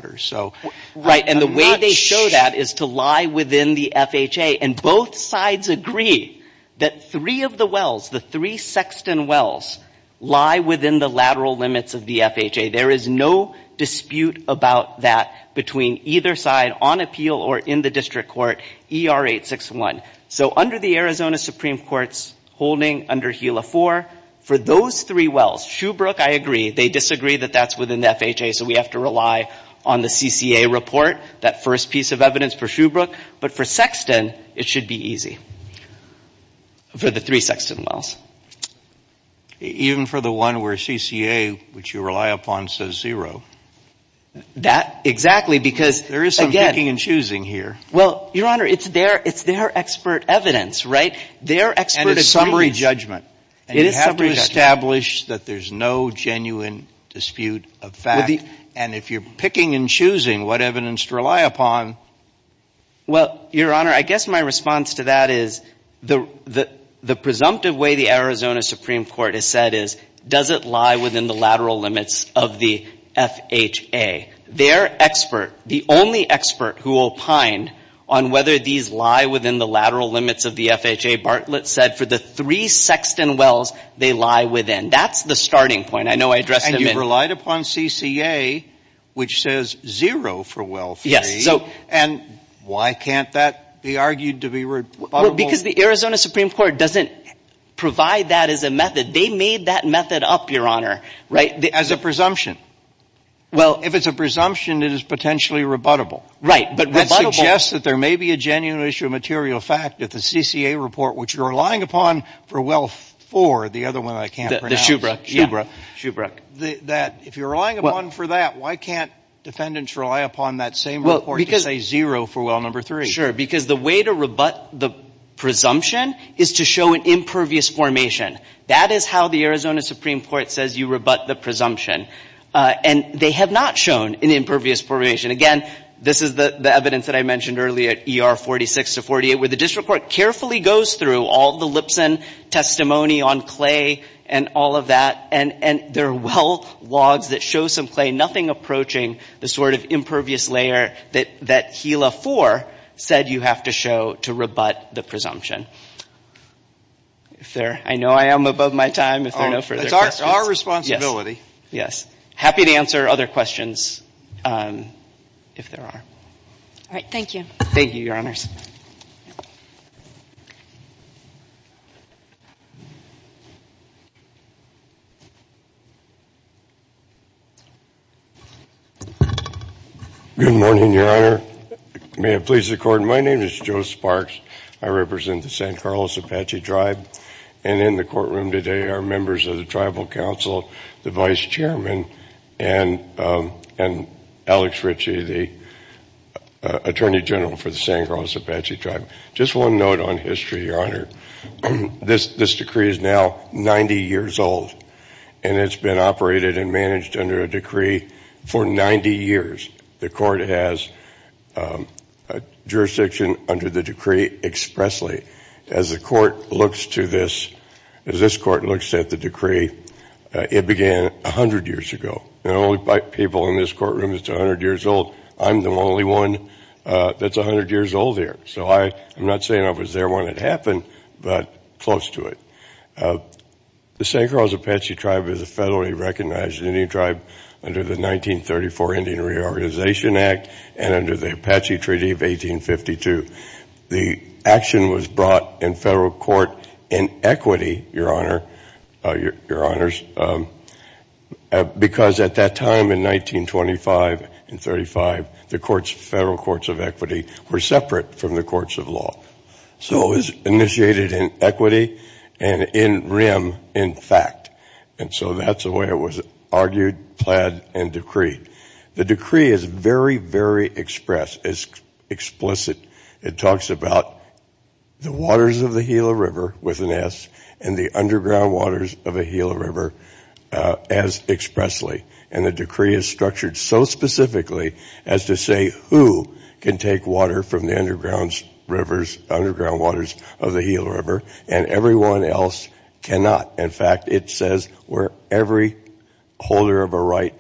Right, and the way they show that is to lie within the FHA. And both sides agree that three of the wells, the three Sexton wells, lie within the lateral limits of the FHA. There is no dispute about that between either side, on appeal or in the district court, ER 861. So under the Arizona Supreme Court's holding under Gila 4, for those three wells, Shoebrook, I agree, they disagree that that's within the FHA, so we have to rely on the CCA report, that first piece of evidence for Shoebrook. But for Sexton, it should be easy for the three Sexton wells. Even for the one where CCA, which you rely upon, says zero? That, exactly, because again— There is some picking and choosing here. Well, Your Honor, it's their expert evidence, right? And it's summary judgment. And you have to establish that there's no genuine dispute of fact. And if you're picking and choosing what evidence to rely upon— Well, Your Honor, I guess my response to that is the presumptive way the Arizona Supreme Court has said is does it lie within the lateral limits of the FHA? Their expert, the only expert who will pined on whether these lie within the lateral limits of the FHA, Bartlett said for the three Sexton wells, they lie within. That's the starting point. I know I addressed it. And you relied upon CCA, which says zero for well three. And why can't that be argued to be— Because the Arizona Supreme Court doesn't provide that as a method. They made that method up, Your Honor. As a presumption? Well, if it's a presumption, it is potentially rebuttable. Right, but— It suggests that there may be a genuine issue of material fact that the CCA report, which you're relying upon for well four, the other one I can't pronounce— The Shubra. Shubra. Shubra. That if you're relying upon for that, why can't defendants rely upon that same report to say zero for well number three? Sure, because the way to rebut the presumption is to show an impervious formation. That is how the Arizona Supreme Court says you rebut the presumption. And they have not shown an impervious formation. Again, this is the evidence that I mentioned earlier, ER 46 to 48, where the district court carefully goes through all the Lipson testimony on Clay and all of that, and there are well logs that show some Clay, nothing approaching the sort of impervious layer that Kela four said you have to show to rebut the presumption. Sir, I know I am above my time. It's our responsibility. Yes. Happy to answer other questions if there are. All right. Thank you. Thank you, Your Honor. Good morning, Your Honor. May it please the Court, my name is Joe Sparks. I represent the San Carlos Apache Tribe, and in the courtroom today are members of the Tribal Council, the Vice Chairman, and Alex Ritchie, the Attorney General for the San Carlos Apache Tribe. Just one note on history, Your Honor. This decree is now 90 years old, and it's been operated and managed under a decree for 90 years. The Court has jurisdiction under the decree expressly. As the Court looks to this, as this Court looks at the decree, it began 100 years ago. The only people in this courtroom that's 100 years old, I'm the only one that's 100 years older. So I'm not saying I was there when it happened, but close to it. The San Carlos Apache Tribe is a federally recognized Indian tribe under the 1934 Indian Reorganization Act and under the Apache Treaty of 1852. The action was brought in federal court in equity, Your Honor, because at that time in 1925 and 1935, the federal courts of equity were separate from the courts of law. So it was initiated in equity and in rem, in fact. And so that's the way it was argued, planned, and decreed. The decree is very, very express, explicit. It talks about the waters of the Gila River with an S and the underground waters of the Gila River as expressly. And the decree is structured so specifically as to say who can take water from the underground rivers, underground waters of the Gila River, and everyone else cannot. In fact, it says where every holder of a right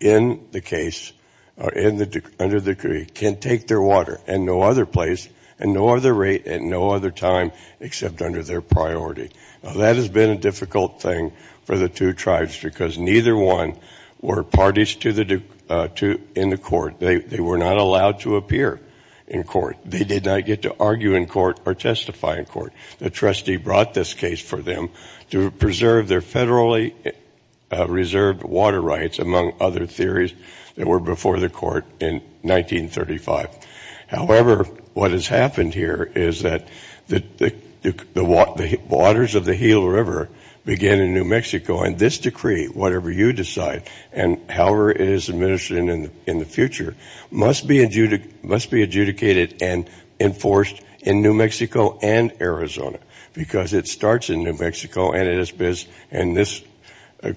in the case, under the decree, can take their water and no other place and no other rate and no other time except under their priority. Now that has been a difficult thing for the two tribes because neither one were parties in the court. They were not allowed to appear in court. They did not get to argue in court or testify in court. The trustee brought this case for them to preserve their federally reserved water rights, among other theories that were before the court in 1935. However, what has happened here is that the waters of the Gila River began in New Mexico, and this decree, whatever you decide, and however it is administered in the future, must be adjudicated and enforced in New Mexico and Arizona because it starts in New Mexico and this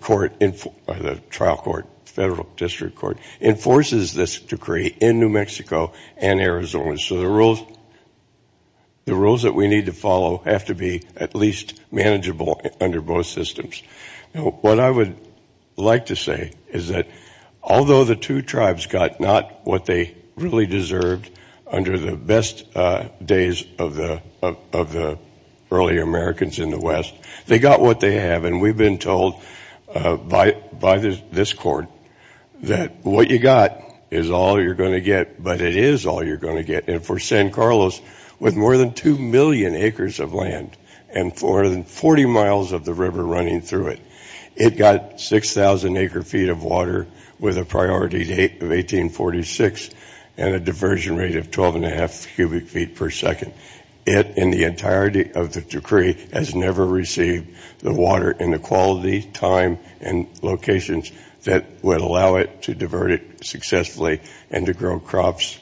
court, the trial court, federal district court, enforces this decree in New Mexico and Arizona. So the rules that we need to follow have to be at least manageable under both systems. What I would like to say is that although the two tribes got not what they really deserved under the best days of the early Americans in the West, they got what they have, and we've been told by this court that what you got is all you're going to get, but it is all you're going to get, and for San Carlos with more than 2 million acres of land and for 40 miles of the river running through it, it got 6,000 acre feet of water with a priority date of 1846 and a diversion rate of 12.5 cubic feet per second. It, in the entirety of the decree, has never received the water in the quality, time, and locations that would allow it to divert it successfully and to grow crops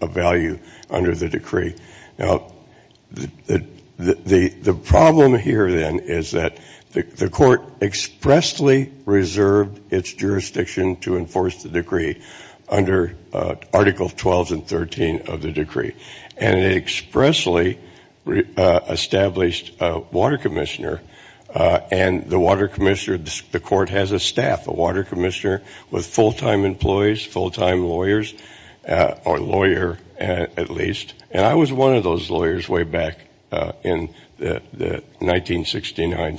of value under the decree. Now, the problem here, then, is that the court expressly reserved its jurisdiction to enforce the decree under Article 12 and 13 of the decree, and it expressly established a water commissioner, and the water commissioner, the court has a staff, a water commissioner with full-time employees, full-time lawyers, or lawyer at least, and I was one of those lawyers way back in the 1969,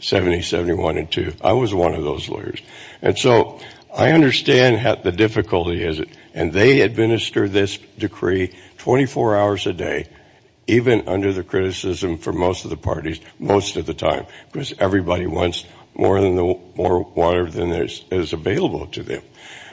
70, 71, and 2. I was one of those lawyers, and so I understand how the difficulty is, and they administer this decree 24 hours a day, even under the criticism from most of the parties, most of the time, because everybody wants more water than is available to them.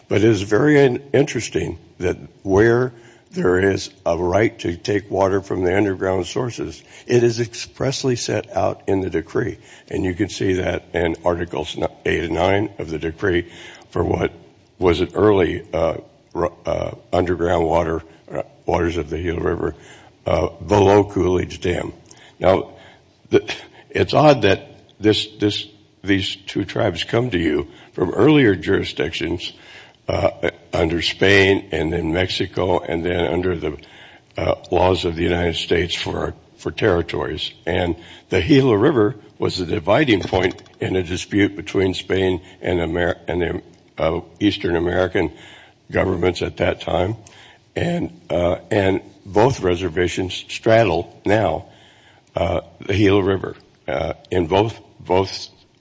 But it is very interesting that where there is a right to take water from the underground sources, it is expressly set out in the decree, and you can see that in Article 8 and 9 of the decree for what was an early underground waters of the Gila River below Coolidge Dam. Now, it's odd that these two tribes come to you from earlier jurisdictions under Spain and then Mexico and then under the laws of the United States for territories, and the Gila River was a dividing point in the dispute between Spain and the Eastern American governments at that time, and both reservations straddle now the Gila River, and both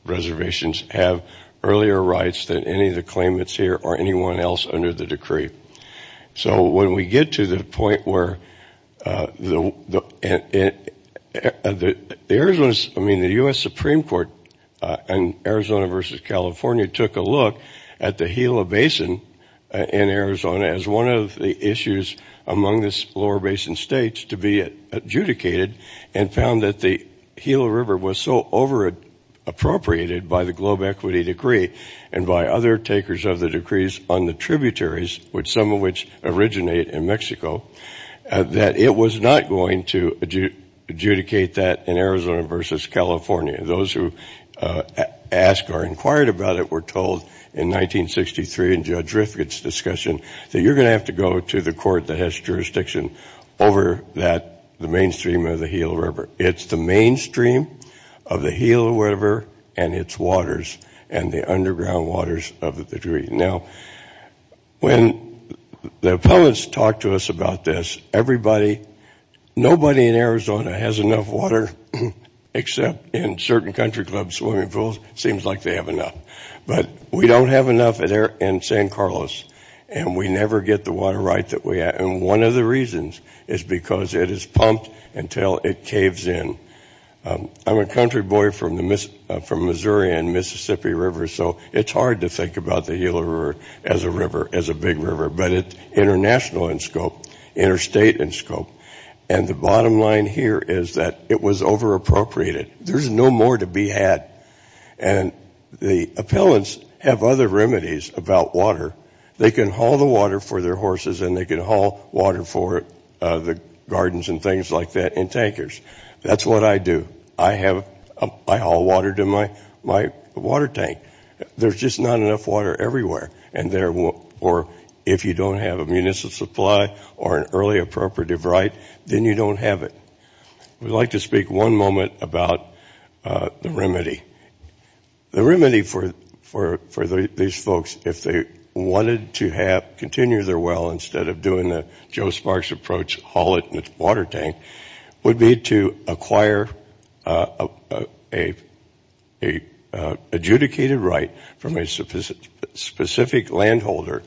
reservations have earlier rights than any of the claimants here or anyone else under the decree. So when we get to the point where the U.S. Supreme Court in Arizona versus California took a look at the Gila Basin in Arizona as one of the issues among the lower basin states to be adjudicated and found that the Gila River was so over-appropriated by the Globe Equity Decree and by other takers of the decrees on the tributaries, some of which originate in Mexico, that it was not going to adjudicate that in Arizona versus California. Those who asked or inquired about it were told in 1963 in Judge Rifkin's discussion that you're going to have to go to the court that has jurisdiction over the mainstream of the Gila River. It's the mainstream of the Gila River and its waters and the underground waters of the decree. Now, when the opponents talk to us about this, everybody, nobody in Arizona has enough water except in certain country clubs, swimming pools, seems like they have enough. But we don't have enough in San Carlos, and we never get the water right that we have. And one of the reasons is because it is pumped until it caves in. I'm a country boy from Missouri and Mississippi River, so it's hard to think about the Gila River as a river, as a big river, but it's international in scope, interstate in scope. And the bottom line here is that it was over-appropriated. There's no more to be had. And the appellants have other remedies about water. They can haul the water for their horses and they can haul water for the gardens and things like that and tankers. That's what I do. I haul water to my water tank. There's just not enough water everywhere. And if you don't have a municipal supply or an early appropriative right, then you don't have it. I'd like to speak one moment about the remedy. The remedy for these folks, if they wanted to continue their well instead of doing the Joe Sparks approach, haul it with water tank, would be to acquire an adjudicated right from a specific landholder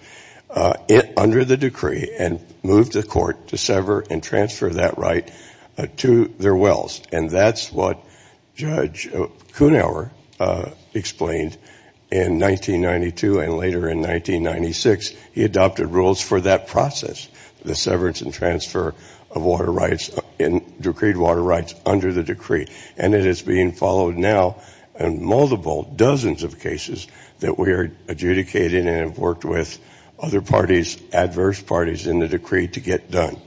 under the decree and move the court to sever and transfer that right to their wells. And that's what Judge Kuhnhauer explained in 1992 and later in 1996. He adopted rules for that process. The severance and transfer of water rights and decreed water rights under the decree. And it is being followed now in multiple, dozens of cases that we are adjudicating and have worked with other parties, adverse parties in the decree to get done.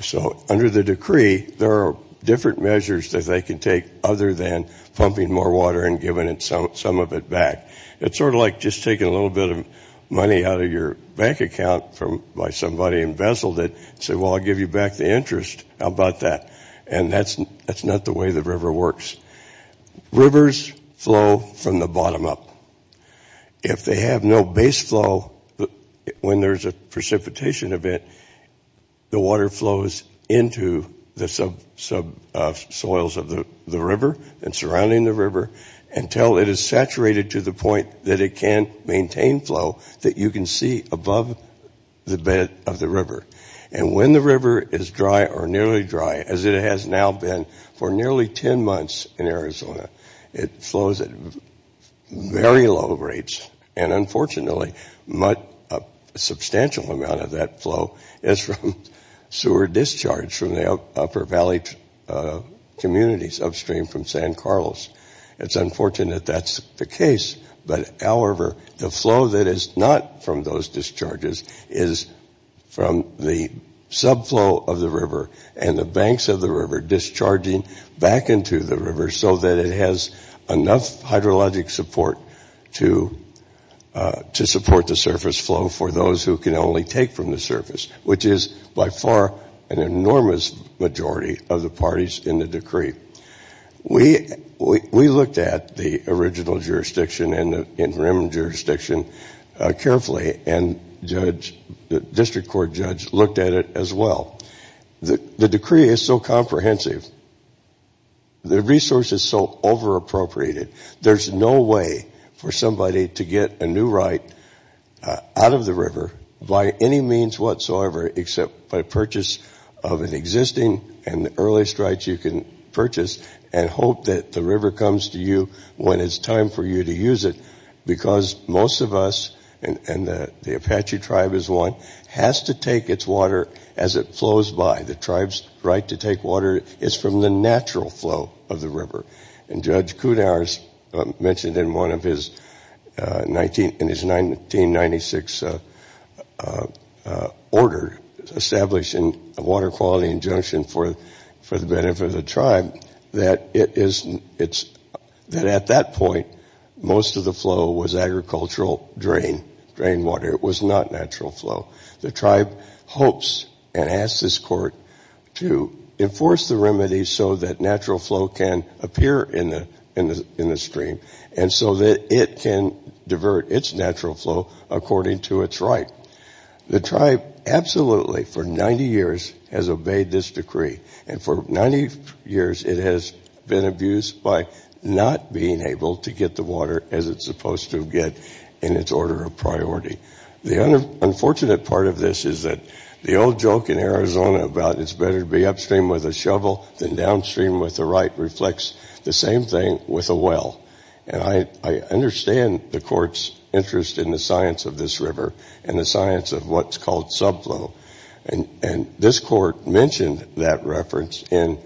So under the decree, there are different measures that they can take other than pumping more water and giving some of it back. It's sort of like just taking a little bit of money out of your bank account by somebody and vesseled it. Say, well, I'll give you back the interest. How about that? And that's not the way the river works. Rivers flow from the bottom up. If they have no base flow, when there's a precipitation of it, the water flows into the subsoils of the river and surrounding the river until it is saturated to the point that it can't maintain flow that you can see above the bed of the river. And when the river is dry or nearly dry, as it has now been for nearly 10 months in Arizona, it flows at very low rates. And unfortunately, a substantial amount of that flow is from sewer discharge from the upper valley communities upstream from San Carlos. It's unfortunate that's the case. But however, the flow that is not from those discharges is from the subflow of the river and the banks of the river discharging back into the river so that it has enough hydrologic support to support the surface flow for those who can only take from the surface, which is by far an enormous majority of the parties in the decree. We looked at the original jurisdiction and the interim jurisdiction carefully, and the district court judge looked at it as well. The decree is so comprehensive. The resource is so over-appropriated. There's no way for somebody to get a new right out of the river by any means whatsoever except by purchase of an existing and the earliest rights you can purchase and hope that the river comes to you when it's time for you to use it because most of us, and the Apache tribe is one, has to take its water as it flows by. The tribe's right to take water is from the natural flow of the river. And Judge Coudar's mentioned in one of his 1996 order establishing a water quality injunction for the benefit of the tribe that at that point most of the flow was agricultural drain water. It was not natural flow. The tribe hopes and asks this court to enforce the remedy so that natural flow can appear in the stream and so that it can divert its natural flow according to its right. The tribe absolutely for 90 years has obeyed this decree, and for 90 years it has been abused by not being able to get the water as it's supposed to get in its order of priority. The unfortunate part of this is that the old joke in Arizona about it's better to be upstream with a shovel than downstream with a right reflects the same thing with a well. And I understand the court's interest in the science of this river and the science of what's called subflow. And this court mentioned that reference in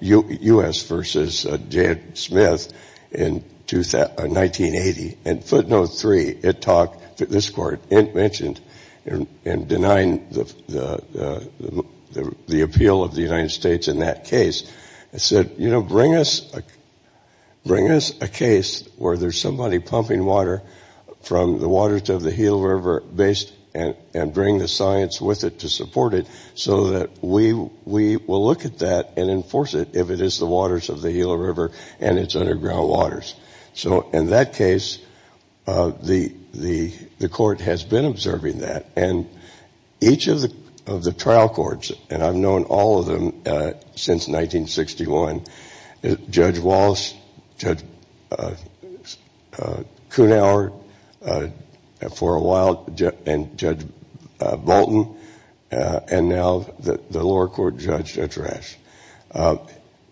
U.S. v. J. Smith in 1980. In footnote three, this court mentioned in denying the appeal of the United States in that case, it said, you know, bring us a case where there's somebody pumping water from the waters of the Gila River and bring the science with it to support it so that we will look at that and enforce it if it is the waters of the Gila River and its underground waters. So in that case, the court has been observing that. And each of the trial courts, and I've known all of them since 1961, Judge Wallace, Judge Kutauer for a while, and Judge Bolton, and now the lower court judge, Judge Rash.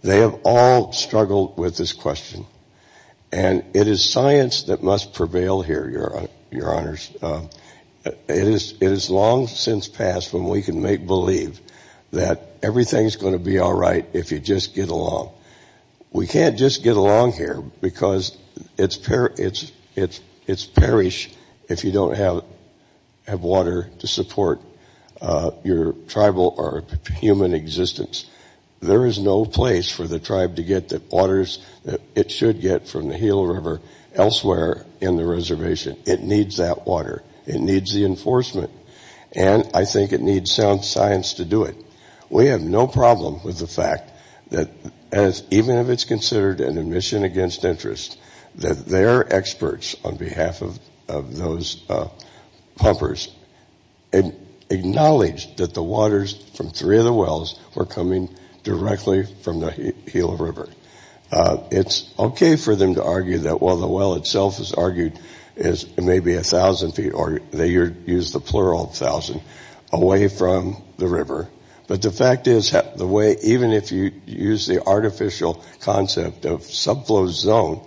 They have all struggled with this question. And it is science that must prevail here, Your Honors. It has long since passed when we can make believe that everything's going to be all right if you just get along. We can't just get along here because it's perish if you don't have water to support your tribal or human existence. There is no place for the tribe to get the waters that it should get from the Gila River elsewhere in the reservation. It needs that water. It needs the enforcement. And I think it needs sound science to do it. We have no problem with the fact that even if it's considered an admission against interest, that their experts on behalf of those pumpers acknowledge that the waters from three of the wells were coming directly from the Gila River. It's okay for them to argue that while the well itself is argued is maybe 1,000 feet, or they use the plural 1,000, away from the river. But the fact is, even if you use the artificial concept of subclosed zone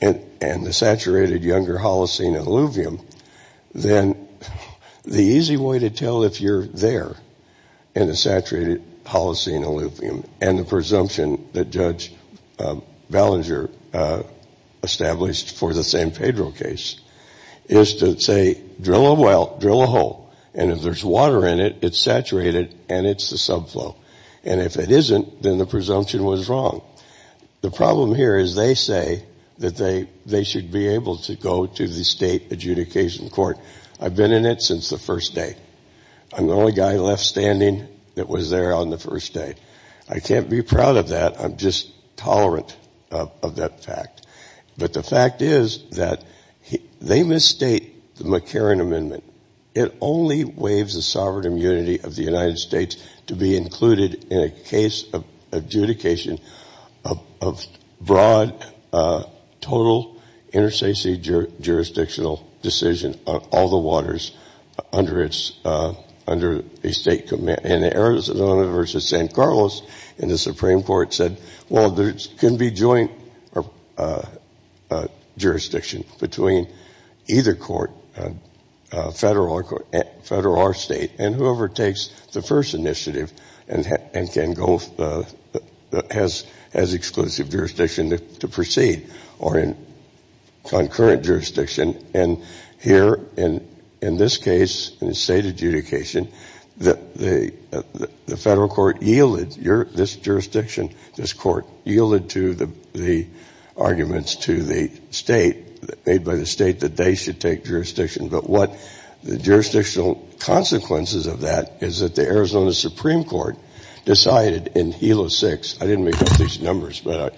and the saturated younger Holocene and alluvium, then the easy way to tell if you're there in the saturated Holocene and alluvium and the presumption that Judge Ballenger established for the San Pedro case is to say, drill a well, drill a hole. And if there's water in it, it's saturated and it's a subflow. And if it isn't, then the presumption was wrong. The problem here is they say that they should be able to go to the state adjudication court. I've been in it since the first day. I'm the only guy left standing that was there on the first day. I can't be proud of that. I'm just tolerant of that fact. But the fact is that they misstate the McCarran Amendment. It only waives the sovereign immunity of the United States to be included in a case of adjudication of broad, total, interstitial jurisdictional decision of all the waters under a state command. In Arizona versus San Carlos, the Supreme Court said, well, there can be joint jurisdiction between either court, federal or state, and whoever takes the first initiative has exclusive jurisdiction to proceed, or in concurrent jurisdiction. And here, in this case, in the state adjudication, the federal court yielded. This jurisdiction, this court yielded to the arguments to the state, made by the state, that they should take jurisdiction. But what the jurisdictional consequences of that is that the Arizona Supreme Court decided in Hilo 6, I didn't make up these numbers, but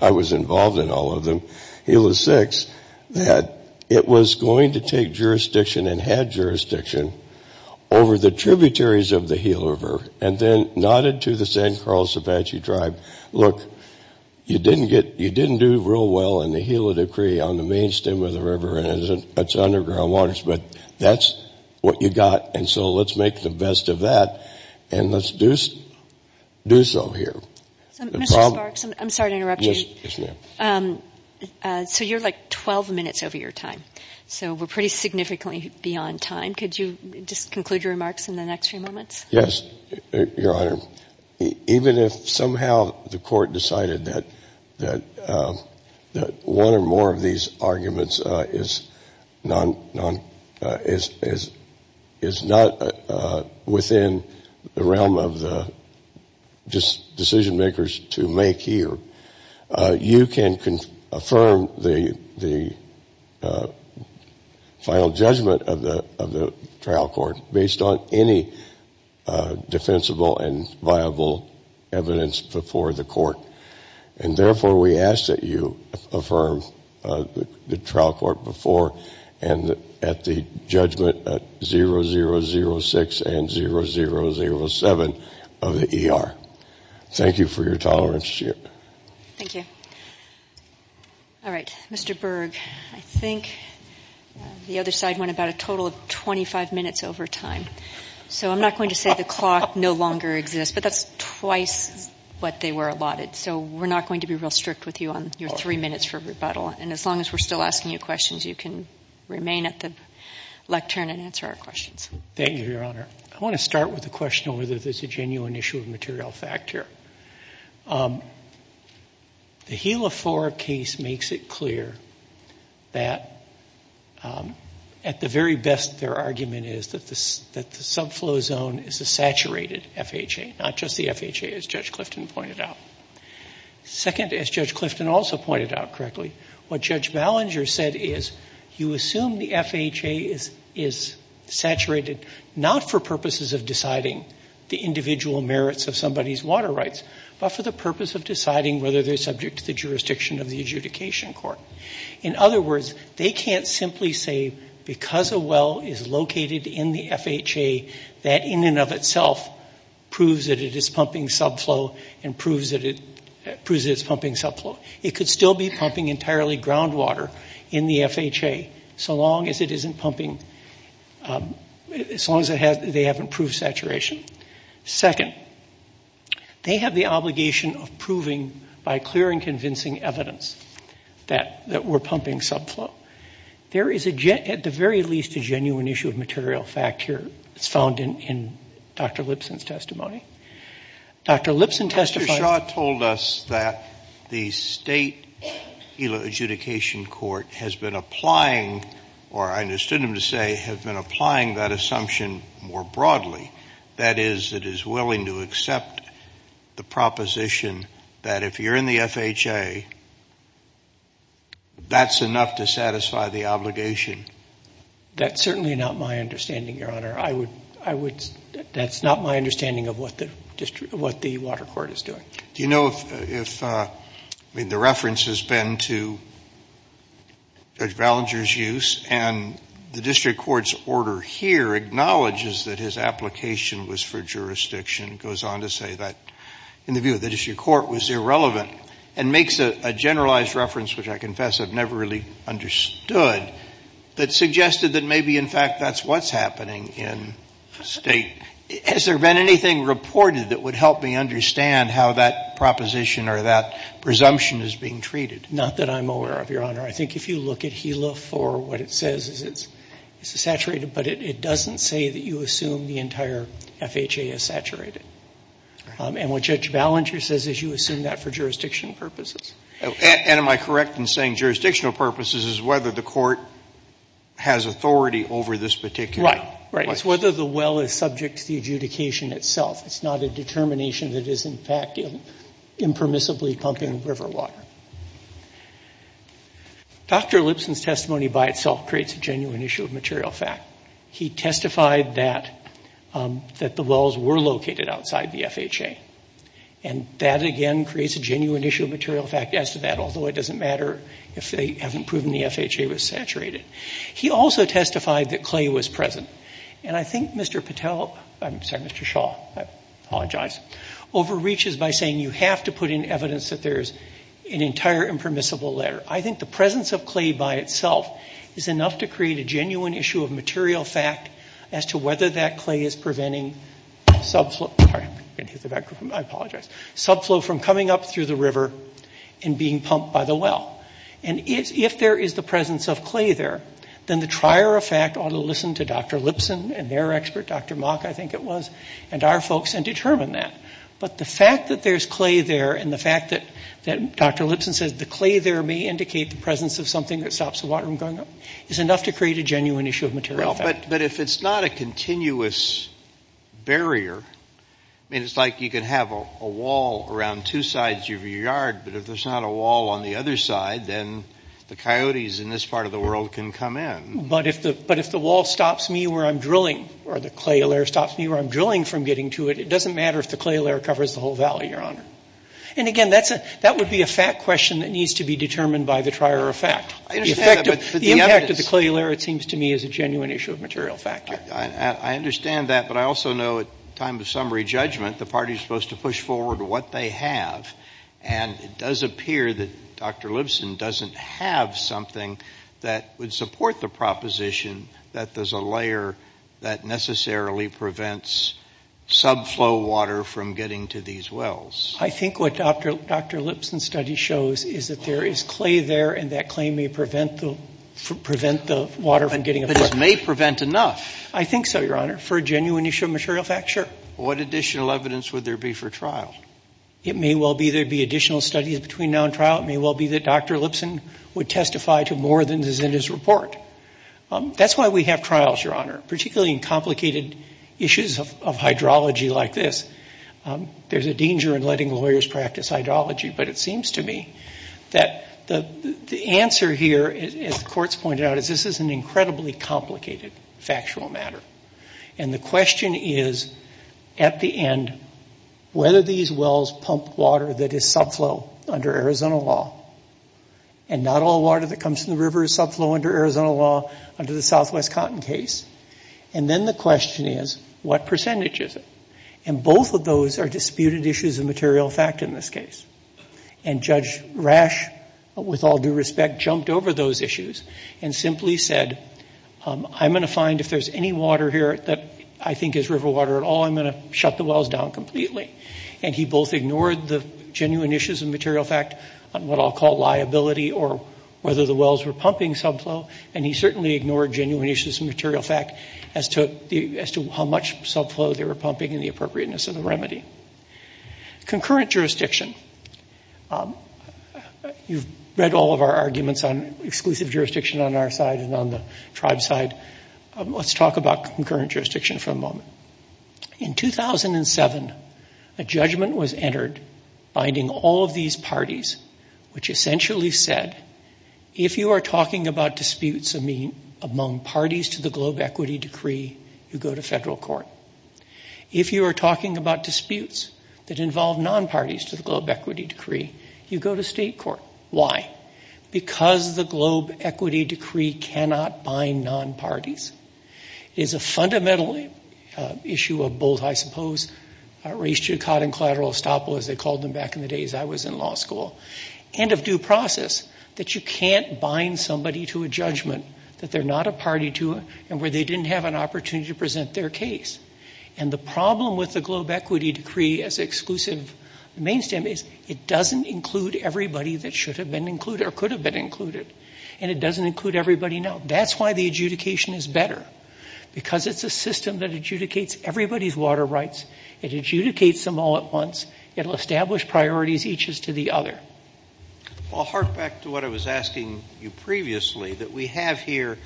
I was involved in all of them, Hilo 6, that it was going to take jurisdiction and had jurisdiction over the tributaries of the Hilo River, and then nodded to the San Carlos Apache tribe, and said, look, you didn't do real well in the Hilo Decree on the main stem of the river and its underground waters, but that's what you got, and so let's make the best of that, and let's do so here. Mr. Parks, I'm sorry to interrupt you. Yes, ma'am. So you're like 12 minutes over your time. So we're pretty significantly beyond time. Could you just conclude your remarks in the next few moments? Yes, Your Honor. Even if somehow the court decided that one or more of these arguments is not within the realm of the decision-makers to make here, you can affirm the final judgment of the trial court based on any defensible and viable evidence before the court, and therefore we ask that you affirm the trial court before and at the judgment at 0006 and 0007 of the ER. Thank you for your tolerance, Jim. Thank you. All right. Mr. Berg, I think the other side went about a total of 25 minutes over time, so I'm not going to say the cost no longer exists, but that's twice what they were allotted, so we're not going to be real strict with you on your three minutes for rebuttal, and as long as we're still asking you questions, you can remain at the lectern and answer our questions. Thank you, Your Honor. I want to start with the question of whether there's a genuine issue of material fact here. The HeLa IV case makes it clear that at the very best their argument is that the subflow zone is a saturated FHA, not just the FHA as Judge Clifton pointed out. Second, as Judge Clifton also pointed out correctly, what Judge Ballinger said is you assume the FHA is saturated not for purposes of deciding the individual merits of somebody's water rights, but for the purpose of deciding whether they're subject to the jurisdiction of the adjudication court. In other words, they can't simply say because a well is located in the FHA, that in and of itself proves that it is pumping subflow and proves that it's pumping subflow. It could still be pumping entirely groundwater in the FHA so long as it isn't pumping, as long as they haven't proved saturation. Second, they have the obligation of proving by clear and convincing evidence that we're pumping subflow. There is at the very least a genuine issue of material fact here found in Dr. Lipson's testimony. Dr. Lipson testified... Mr. Shaw told us that the state adjudication court has been applying, or I understood him to say has been applying that assumption more broadly. That is, it is willing to accept the proposition that if you're in the FHA, that's enough to satisfy the obligation. That's certainly not my understanding, Your Honor. That's not my understanding of what the water court is doing. Do you know if the reference has been to Judge Ballenger's use and the district court's order here acknowledges that his application was for jurisdiction, goes on to say that in the view of the district court was irrelevant, and makes a generalized reference, which I confess I've never really understood, but suggested that maybe in fact that's what's happening in the state. Has there been anything reported that would help me understand how that proposition or that presumption is being treated? Not that I'm aware of, Your Honor. I think if you look at HELA for what it says, it's saturated, but it doesn't say that you assume the entire FHA is saturated. And what Judge Ballenger says is you assume that for jurisdictional purposes. And am I correct in saying jurisdictional purposes is whether the court has authority over this particular case? Right. It's whether the well is subject to the adjudication itself. It's not a determination that it is in fact impermissibly pumping river water. Dr. Lipson's testimony by itself creates a genuine issue of material fact. He testified that the wells were located outside the FHA. And that again creates a genuine issue of material fact as to that, although it doesn't matter if they haven't proven the FHA was saturated. He also testified that clay was present. And I think Mr. Patel, I'm sorry, Mr. Shaw, I apologize, overreaches by saying you have to put in evidence that there's an entire impermissible layer. I think the presence of clay by itself is enough to create a genuine issue of material fact as to whether that clay is preventing subflow from coming up through the river and being pumped by the well. And if there is the presence of clay there, then the trier of fact ought to listen to Dr. Lipson and their expert, Dr. Mock, I think it was, and our folks and determine that. But the fact that there's clay there and the fact that Dr. Lipson says the clay there may indicate the presence of something that stops the water from going up is enough to create a genuine issue of material fact. But if it's not a continuous barrier, it's like you can have a wall around two sides of your yard, but if there's not a wall on the other side, then the coyotes in this part of the world can come in. But if the wall stops me where I'm drilling or the clay layer stops me where I'm drilling from getting to it, it doesn't matter if the clay layer covers the whole valley, Your Honor. And again, that would be a fact question that needs to be determined by the trier of fact. The impact of the clay layer, it seems to me, is a genuine issue of material fact. I understand that, but I also know at the time of summary judgment, the party is supposed to push forward what they have, and it does appear that Dr. Lipson doesn't have something that would support the proposition that there's a layer that necessarily prevents subflow water from getting to these wells. I think what Dr. Lipson's study shows is that there is clay there, and that clay may prevent the water from getting there. It may prevent enough. I think so, Your Honor, for a genuine issue of material fact, sure. What additional evidence would there be for trial? It may well be there'd be additional studies between now and trial. It may well be that Dr. Lipson would testify to more than is in his report. That's why we have trials, Your Honor, particularly in complicated issues of hydrology like this. There's a danger in letting lawyers practice hydrology, but it seems to me that the answer here, as the courts pointed out, is this is an incredibly complicated factual matter. And the question is, at the end, whether these wells pump water that is subflow under Arizona law, and not all water that comes from the river is subflow under Arizona law under the Southwest Cotton case. And then the question is, what percentage is it? And both of those are disputed issues of material fact in this case. And Judge Rash, with all due respect, jumped over those issues and simply said, I'm going to find if there's any water here that I think is river water at all, I'm going to shut the wells down completely. And he both ignored the genuine issues of material fact, what I'll call liability, or whether the wells were pumping subflow, and he certainly ignored genuine issues of material fact as to how much subflow they were pumping and the appropriateness of the remedy. Concurrent jurisdiction. You've read all of our arguments on exclusive jurisdiction on our side and on the tribe side. Let's talk about concurrent jurisdiction for a moment. In 2007, a judgment was entered binding all of these parties, which essentially said, if you are talking about disputes among parties to the Globe Equity Decree, you go to federal court. If you are talking about disputes that involve non-parties to the Globe Equity Decree, you go to state court. Why? Because the Globe Equity Decree cannot bind non-parties. It's a fundamental issue of both, I suppose, race to cotton collateral estoppel, as they called them back in the days I was in law school, and of due process, that you can't bind somebody to a judgment that they're not a party to and where they didn't have an opportunity to present their case. And the problem with the Globe Equity Decree as exclusive mainstay is it doesn't include everybody that should have been included or could have been included, and it doesn't include everybody now. That's why the adjudication is better, because it's a system that adjudicates everybody's water rights. It adjudicates them all at once. It'll establish priorities, each is to the other. Well, I'll hark back to what I was asking you previously, that we have here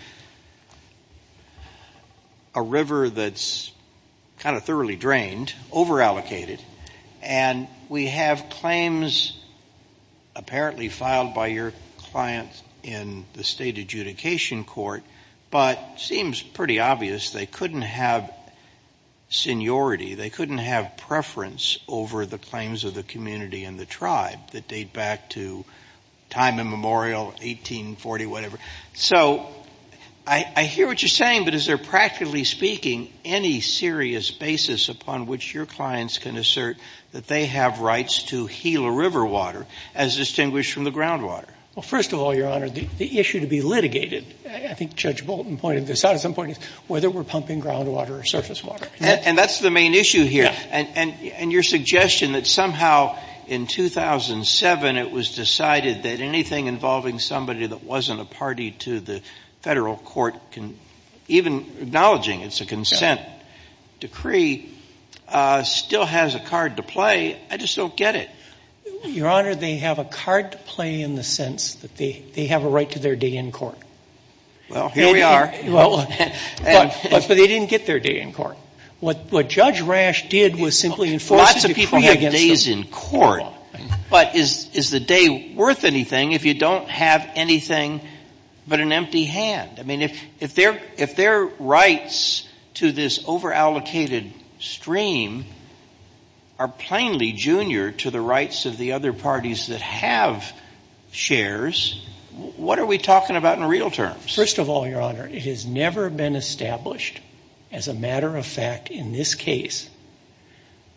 a river that's kind of thoroughly drained, over-allocated, and we have claims apparently filed by your client in the state adjudication court, but it seems pretty obvious they couldn't have seniority, they couldn't have preference over the claims of the community and the tribe that date back to time immemorial, 1840, whatever. So I hear what you're saying, but is there practically speaking any serious basis upon which your clients can assert that they have rights to heal a river water as distinguished from the groundwater? Well, first of all, Your Honor, the issue to be litigated, I think Judge Bolton pointed this out at some point, is whether we're pumping groundwater or surface water. And that's the main issue here, and your suggestion that somehow in 2007 it was decided that anything involving somebody that wasn't a party to the federal court, even acknowledging it's a consent decree, still has a card to play, I just don't get it. Your Honor, they have a card to play in the sense that they have a right to their day in court. Well, here we are. But they didn't get their day in court. What Judge Rash did was simply enforce the decree again. Lots of people get days in court, but is the day worth anything if you don't have anything but an empty hand? I mean, if their rights to this over-allocated stream are plainly junior to the rights of the other parties that have shares, what are we talking about in real terms? First of all, Your Honor, it has never been established as a matter of fact in this case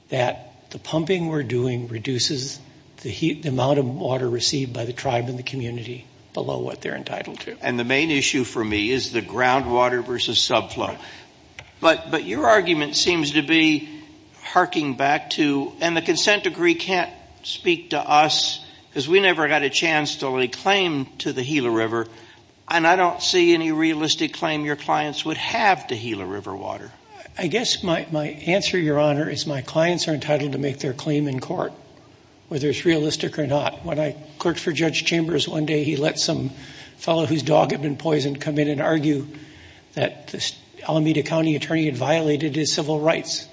that the pumping we're doing reduces the amount of water received by the tribe and the community below what they're entitled to. And the main issue for me is the groundwater versus subflow. But your argument seems to be harking back to, and the consent decree can't speak to us, because we never got a chance to lay claim to the Gila River, and I don't see any realistic claim your clients would have to Gila River water. I guess my answer, Your Honor, is my clients are entitled to make their claim in court, whether it's realistic or not. When I clerked for Judge Chambers one day, he let some fellow whose dog had been poisoned come in and argue that the Alameda County attorney had violated his civil rights.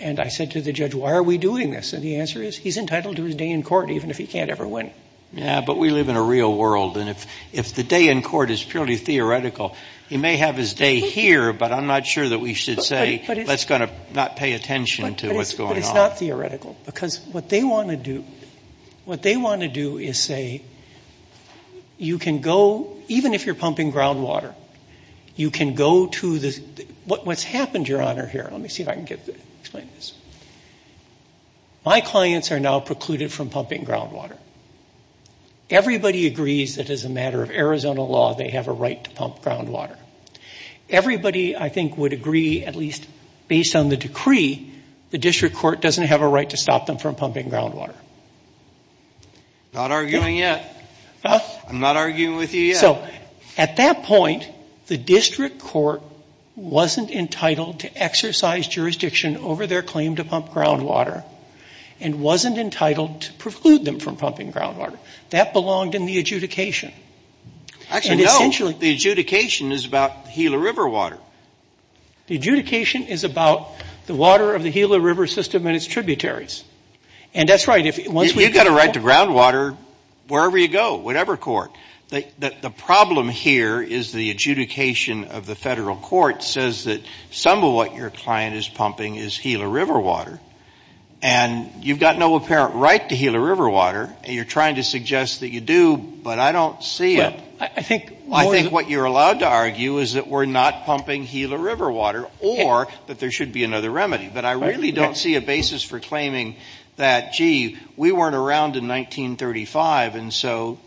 And I said to the judge, why are we doing this? And the answer is, he's entitled to his day in court, even if he can't ever win. Yeah, but we live in a real world, and if the day in court is purely theoretical, he may have his day here, but I'm not sure that we should say, let's not pay attention to what's going on. It's not theoretical, because what they want to do is say, you can go, even if you're pumping groundwater, you can go to the, what's happened, Your Honor, here, let me see if I can explain this. My clients are now precluded from pumping groundwater. Everybody agrees that as a matter of Arizona law, they have a right to pump groundwater. Everybody, I think, would agree, at least based on the decree, the district court doesn't have a right to stop them from pumping groundwater. Not arguing yet. Huh? I'm not arguing with you yet. So, at that point, the district court wasn't entitled to exercise jurisdiction over their claim to pump groundwater, and wasn't entitled to preclude them from pumping groundwater. That belonged in the adjudication. Actually, no. The adjudication is about Gila River water. The adjudication is about the water of the Gila River system and its tributaries. And that's right. You've got a right to groundwater wherever you go, whatever court. The problem here is the adjudication of the federal court says that some of what your client is pumping is Gila River water, and you've got no apparent right to Gila River water, and you're trying to suggest that you do, but I don't see it. I think what you're allowed to argue is that we're not pumping Gila River water, or that there should be another remedy. But I really don't see a basis for claiming that, gee, we weren't around in 1935, and so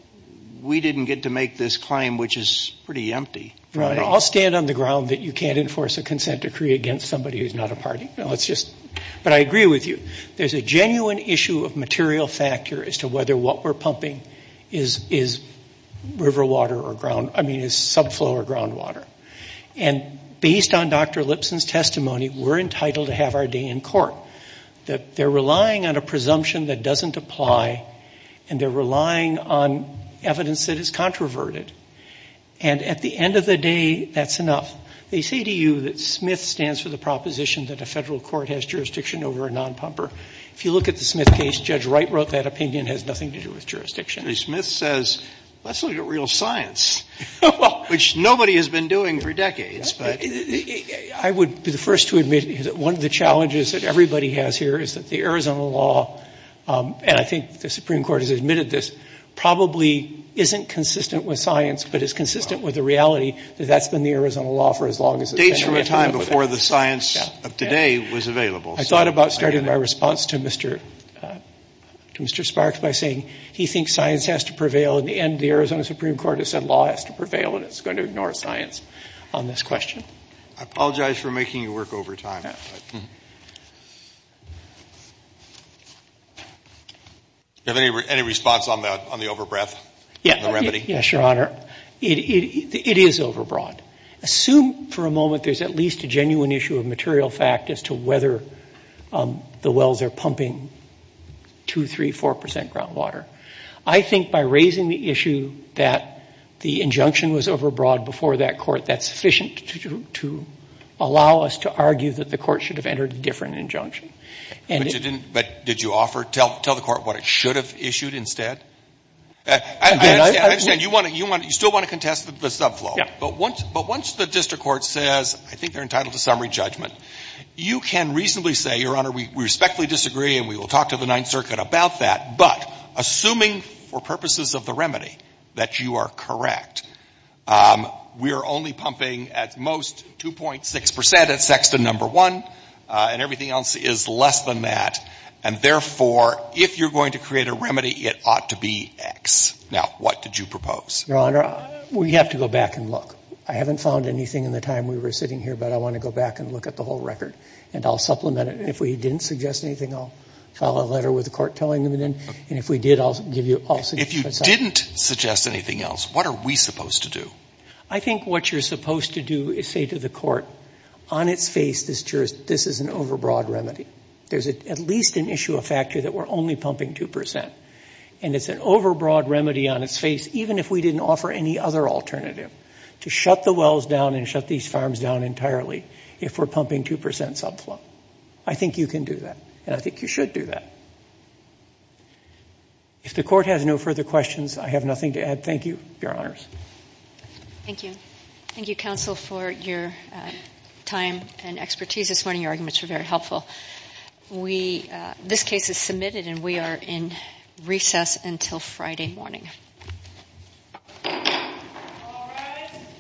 we didn't get to make this claim, which is pretty empty. Right. I'll stand on the ground that you can't enforce a consent decree against somebody who's not a party. But I agree with you. There's a genuine issue of material factor as to whether what we're pumping is river water or ground, I mean is subflow or groundwater. And based on Dr. Lipson's testimony, we're entitled to have our day in court. They're relying on a presumption that doesn't apply, and they're relying on evidence that is controverted. And at the end of the day, that's enough. They say to you that Smith stands for the proposition that a federal court has jurisdiction over a non-pumper. If you look at the Smith case, Judge Wright wrote that opinion has nothing to do with jurisdiction. I mean, Smith says, let's look at real science, which nobody has been doing for decades. I would be the first to admit that one of the challenges that everybody has here is that the Arizona law, and I think the Supreme Court has admitted this, probably isn't consistent with science, but it's consistent with the reality that that's been the Arizona law for as long as it's been available. It dates from a time before the science of today was available. I thought about starting my response to Mr. Sparks by saying he thinks science has to prevail. In the end, the Arizona Supreme Court has said law has to prevail, and it's going to ignore science on this question. I apologize for making you work overtime. Do you have any response on the overbreath? Yes, Your Honor. It is overbreath. Assume for a moment there's at least a genuine issue of material fact as to whether the wells are pumping 2%, 3%, 4% groundwater. I think by raising the issue that the injunction was overbreath before that court, that's sufficient to allow us to argue that the court should have entered a different injunction. But did you tell the court what it should have issued instead? I understand. You still want to contest the subfloor. But once the district court says, I think you're entitled to summary judgment, you can reasonably say, Your Honor, we respectfully disagree and we will talk to the Ninth Circuit about that, but assuming for purposes of the remedy that you are correct, we are only pumping at most 2.6% as sex to number one, and everything else is less than that, and therefore, if you're going to create a remedy, it ought to be X. Now, what did you propose? Your Honor, we have to go back and look. I haven't found anything in the time we were sitting here, but I want to go back and look at the whole record, and I'll supplement it, and if we didn't suggest anything, I'll file a letter with the court telling them, and if we did, I'll give you a policy. If you didn't suggest anything else, what are we supposed to do? I think what you're supposed to do is say to the court, on its face, this is an overbroad remedy. There's at least an issue of factor that we're only pumping 2%, and it's an overbroad remedy on its face, even if we didn't offer any other alternative to shut the wells down and shut these farms down entirely if we're pumping 2% subflow. I think you can do that, and I think you should do that. If the court has no further questions, I have nothing to add. Thank you, Your Honors. Thank you. Thank you, counsel, for your time and expertise this morning. Your arguments are very helpful. This case is submitted, and we are in recess until Friday morning.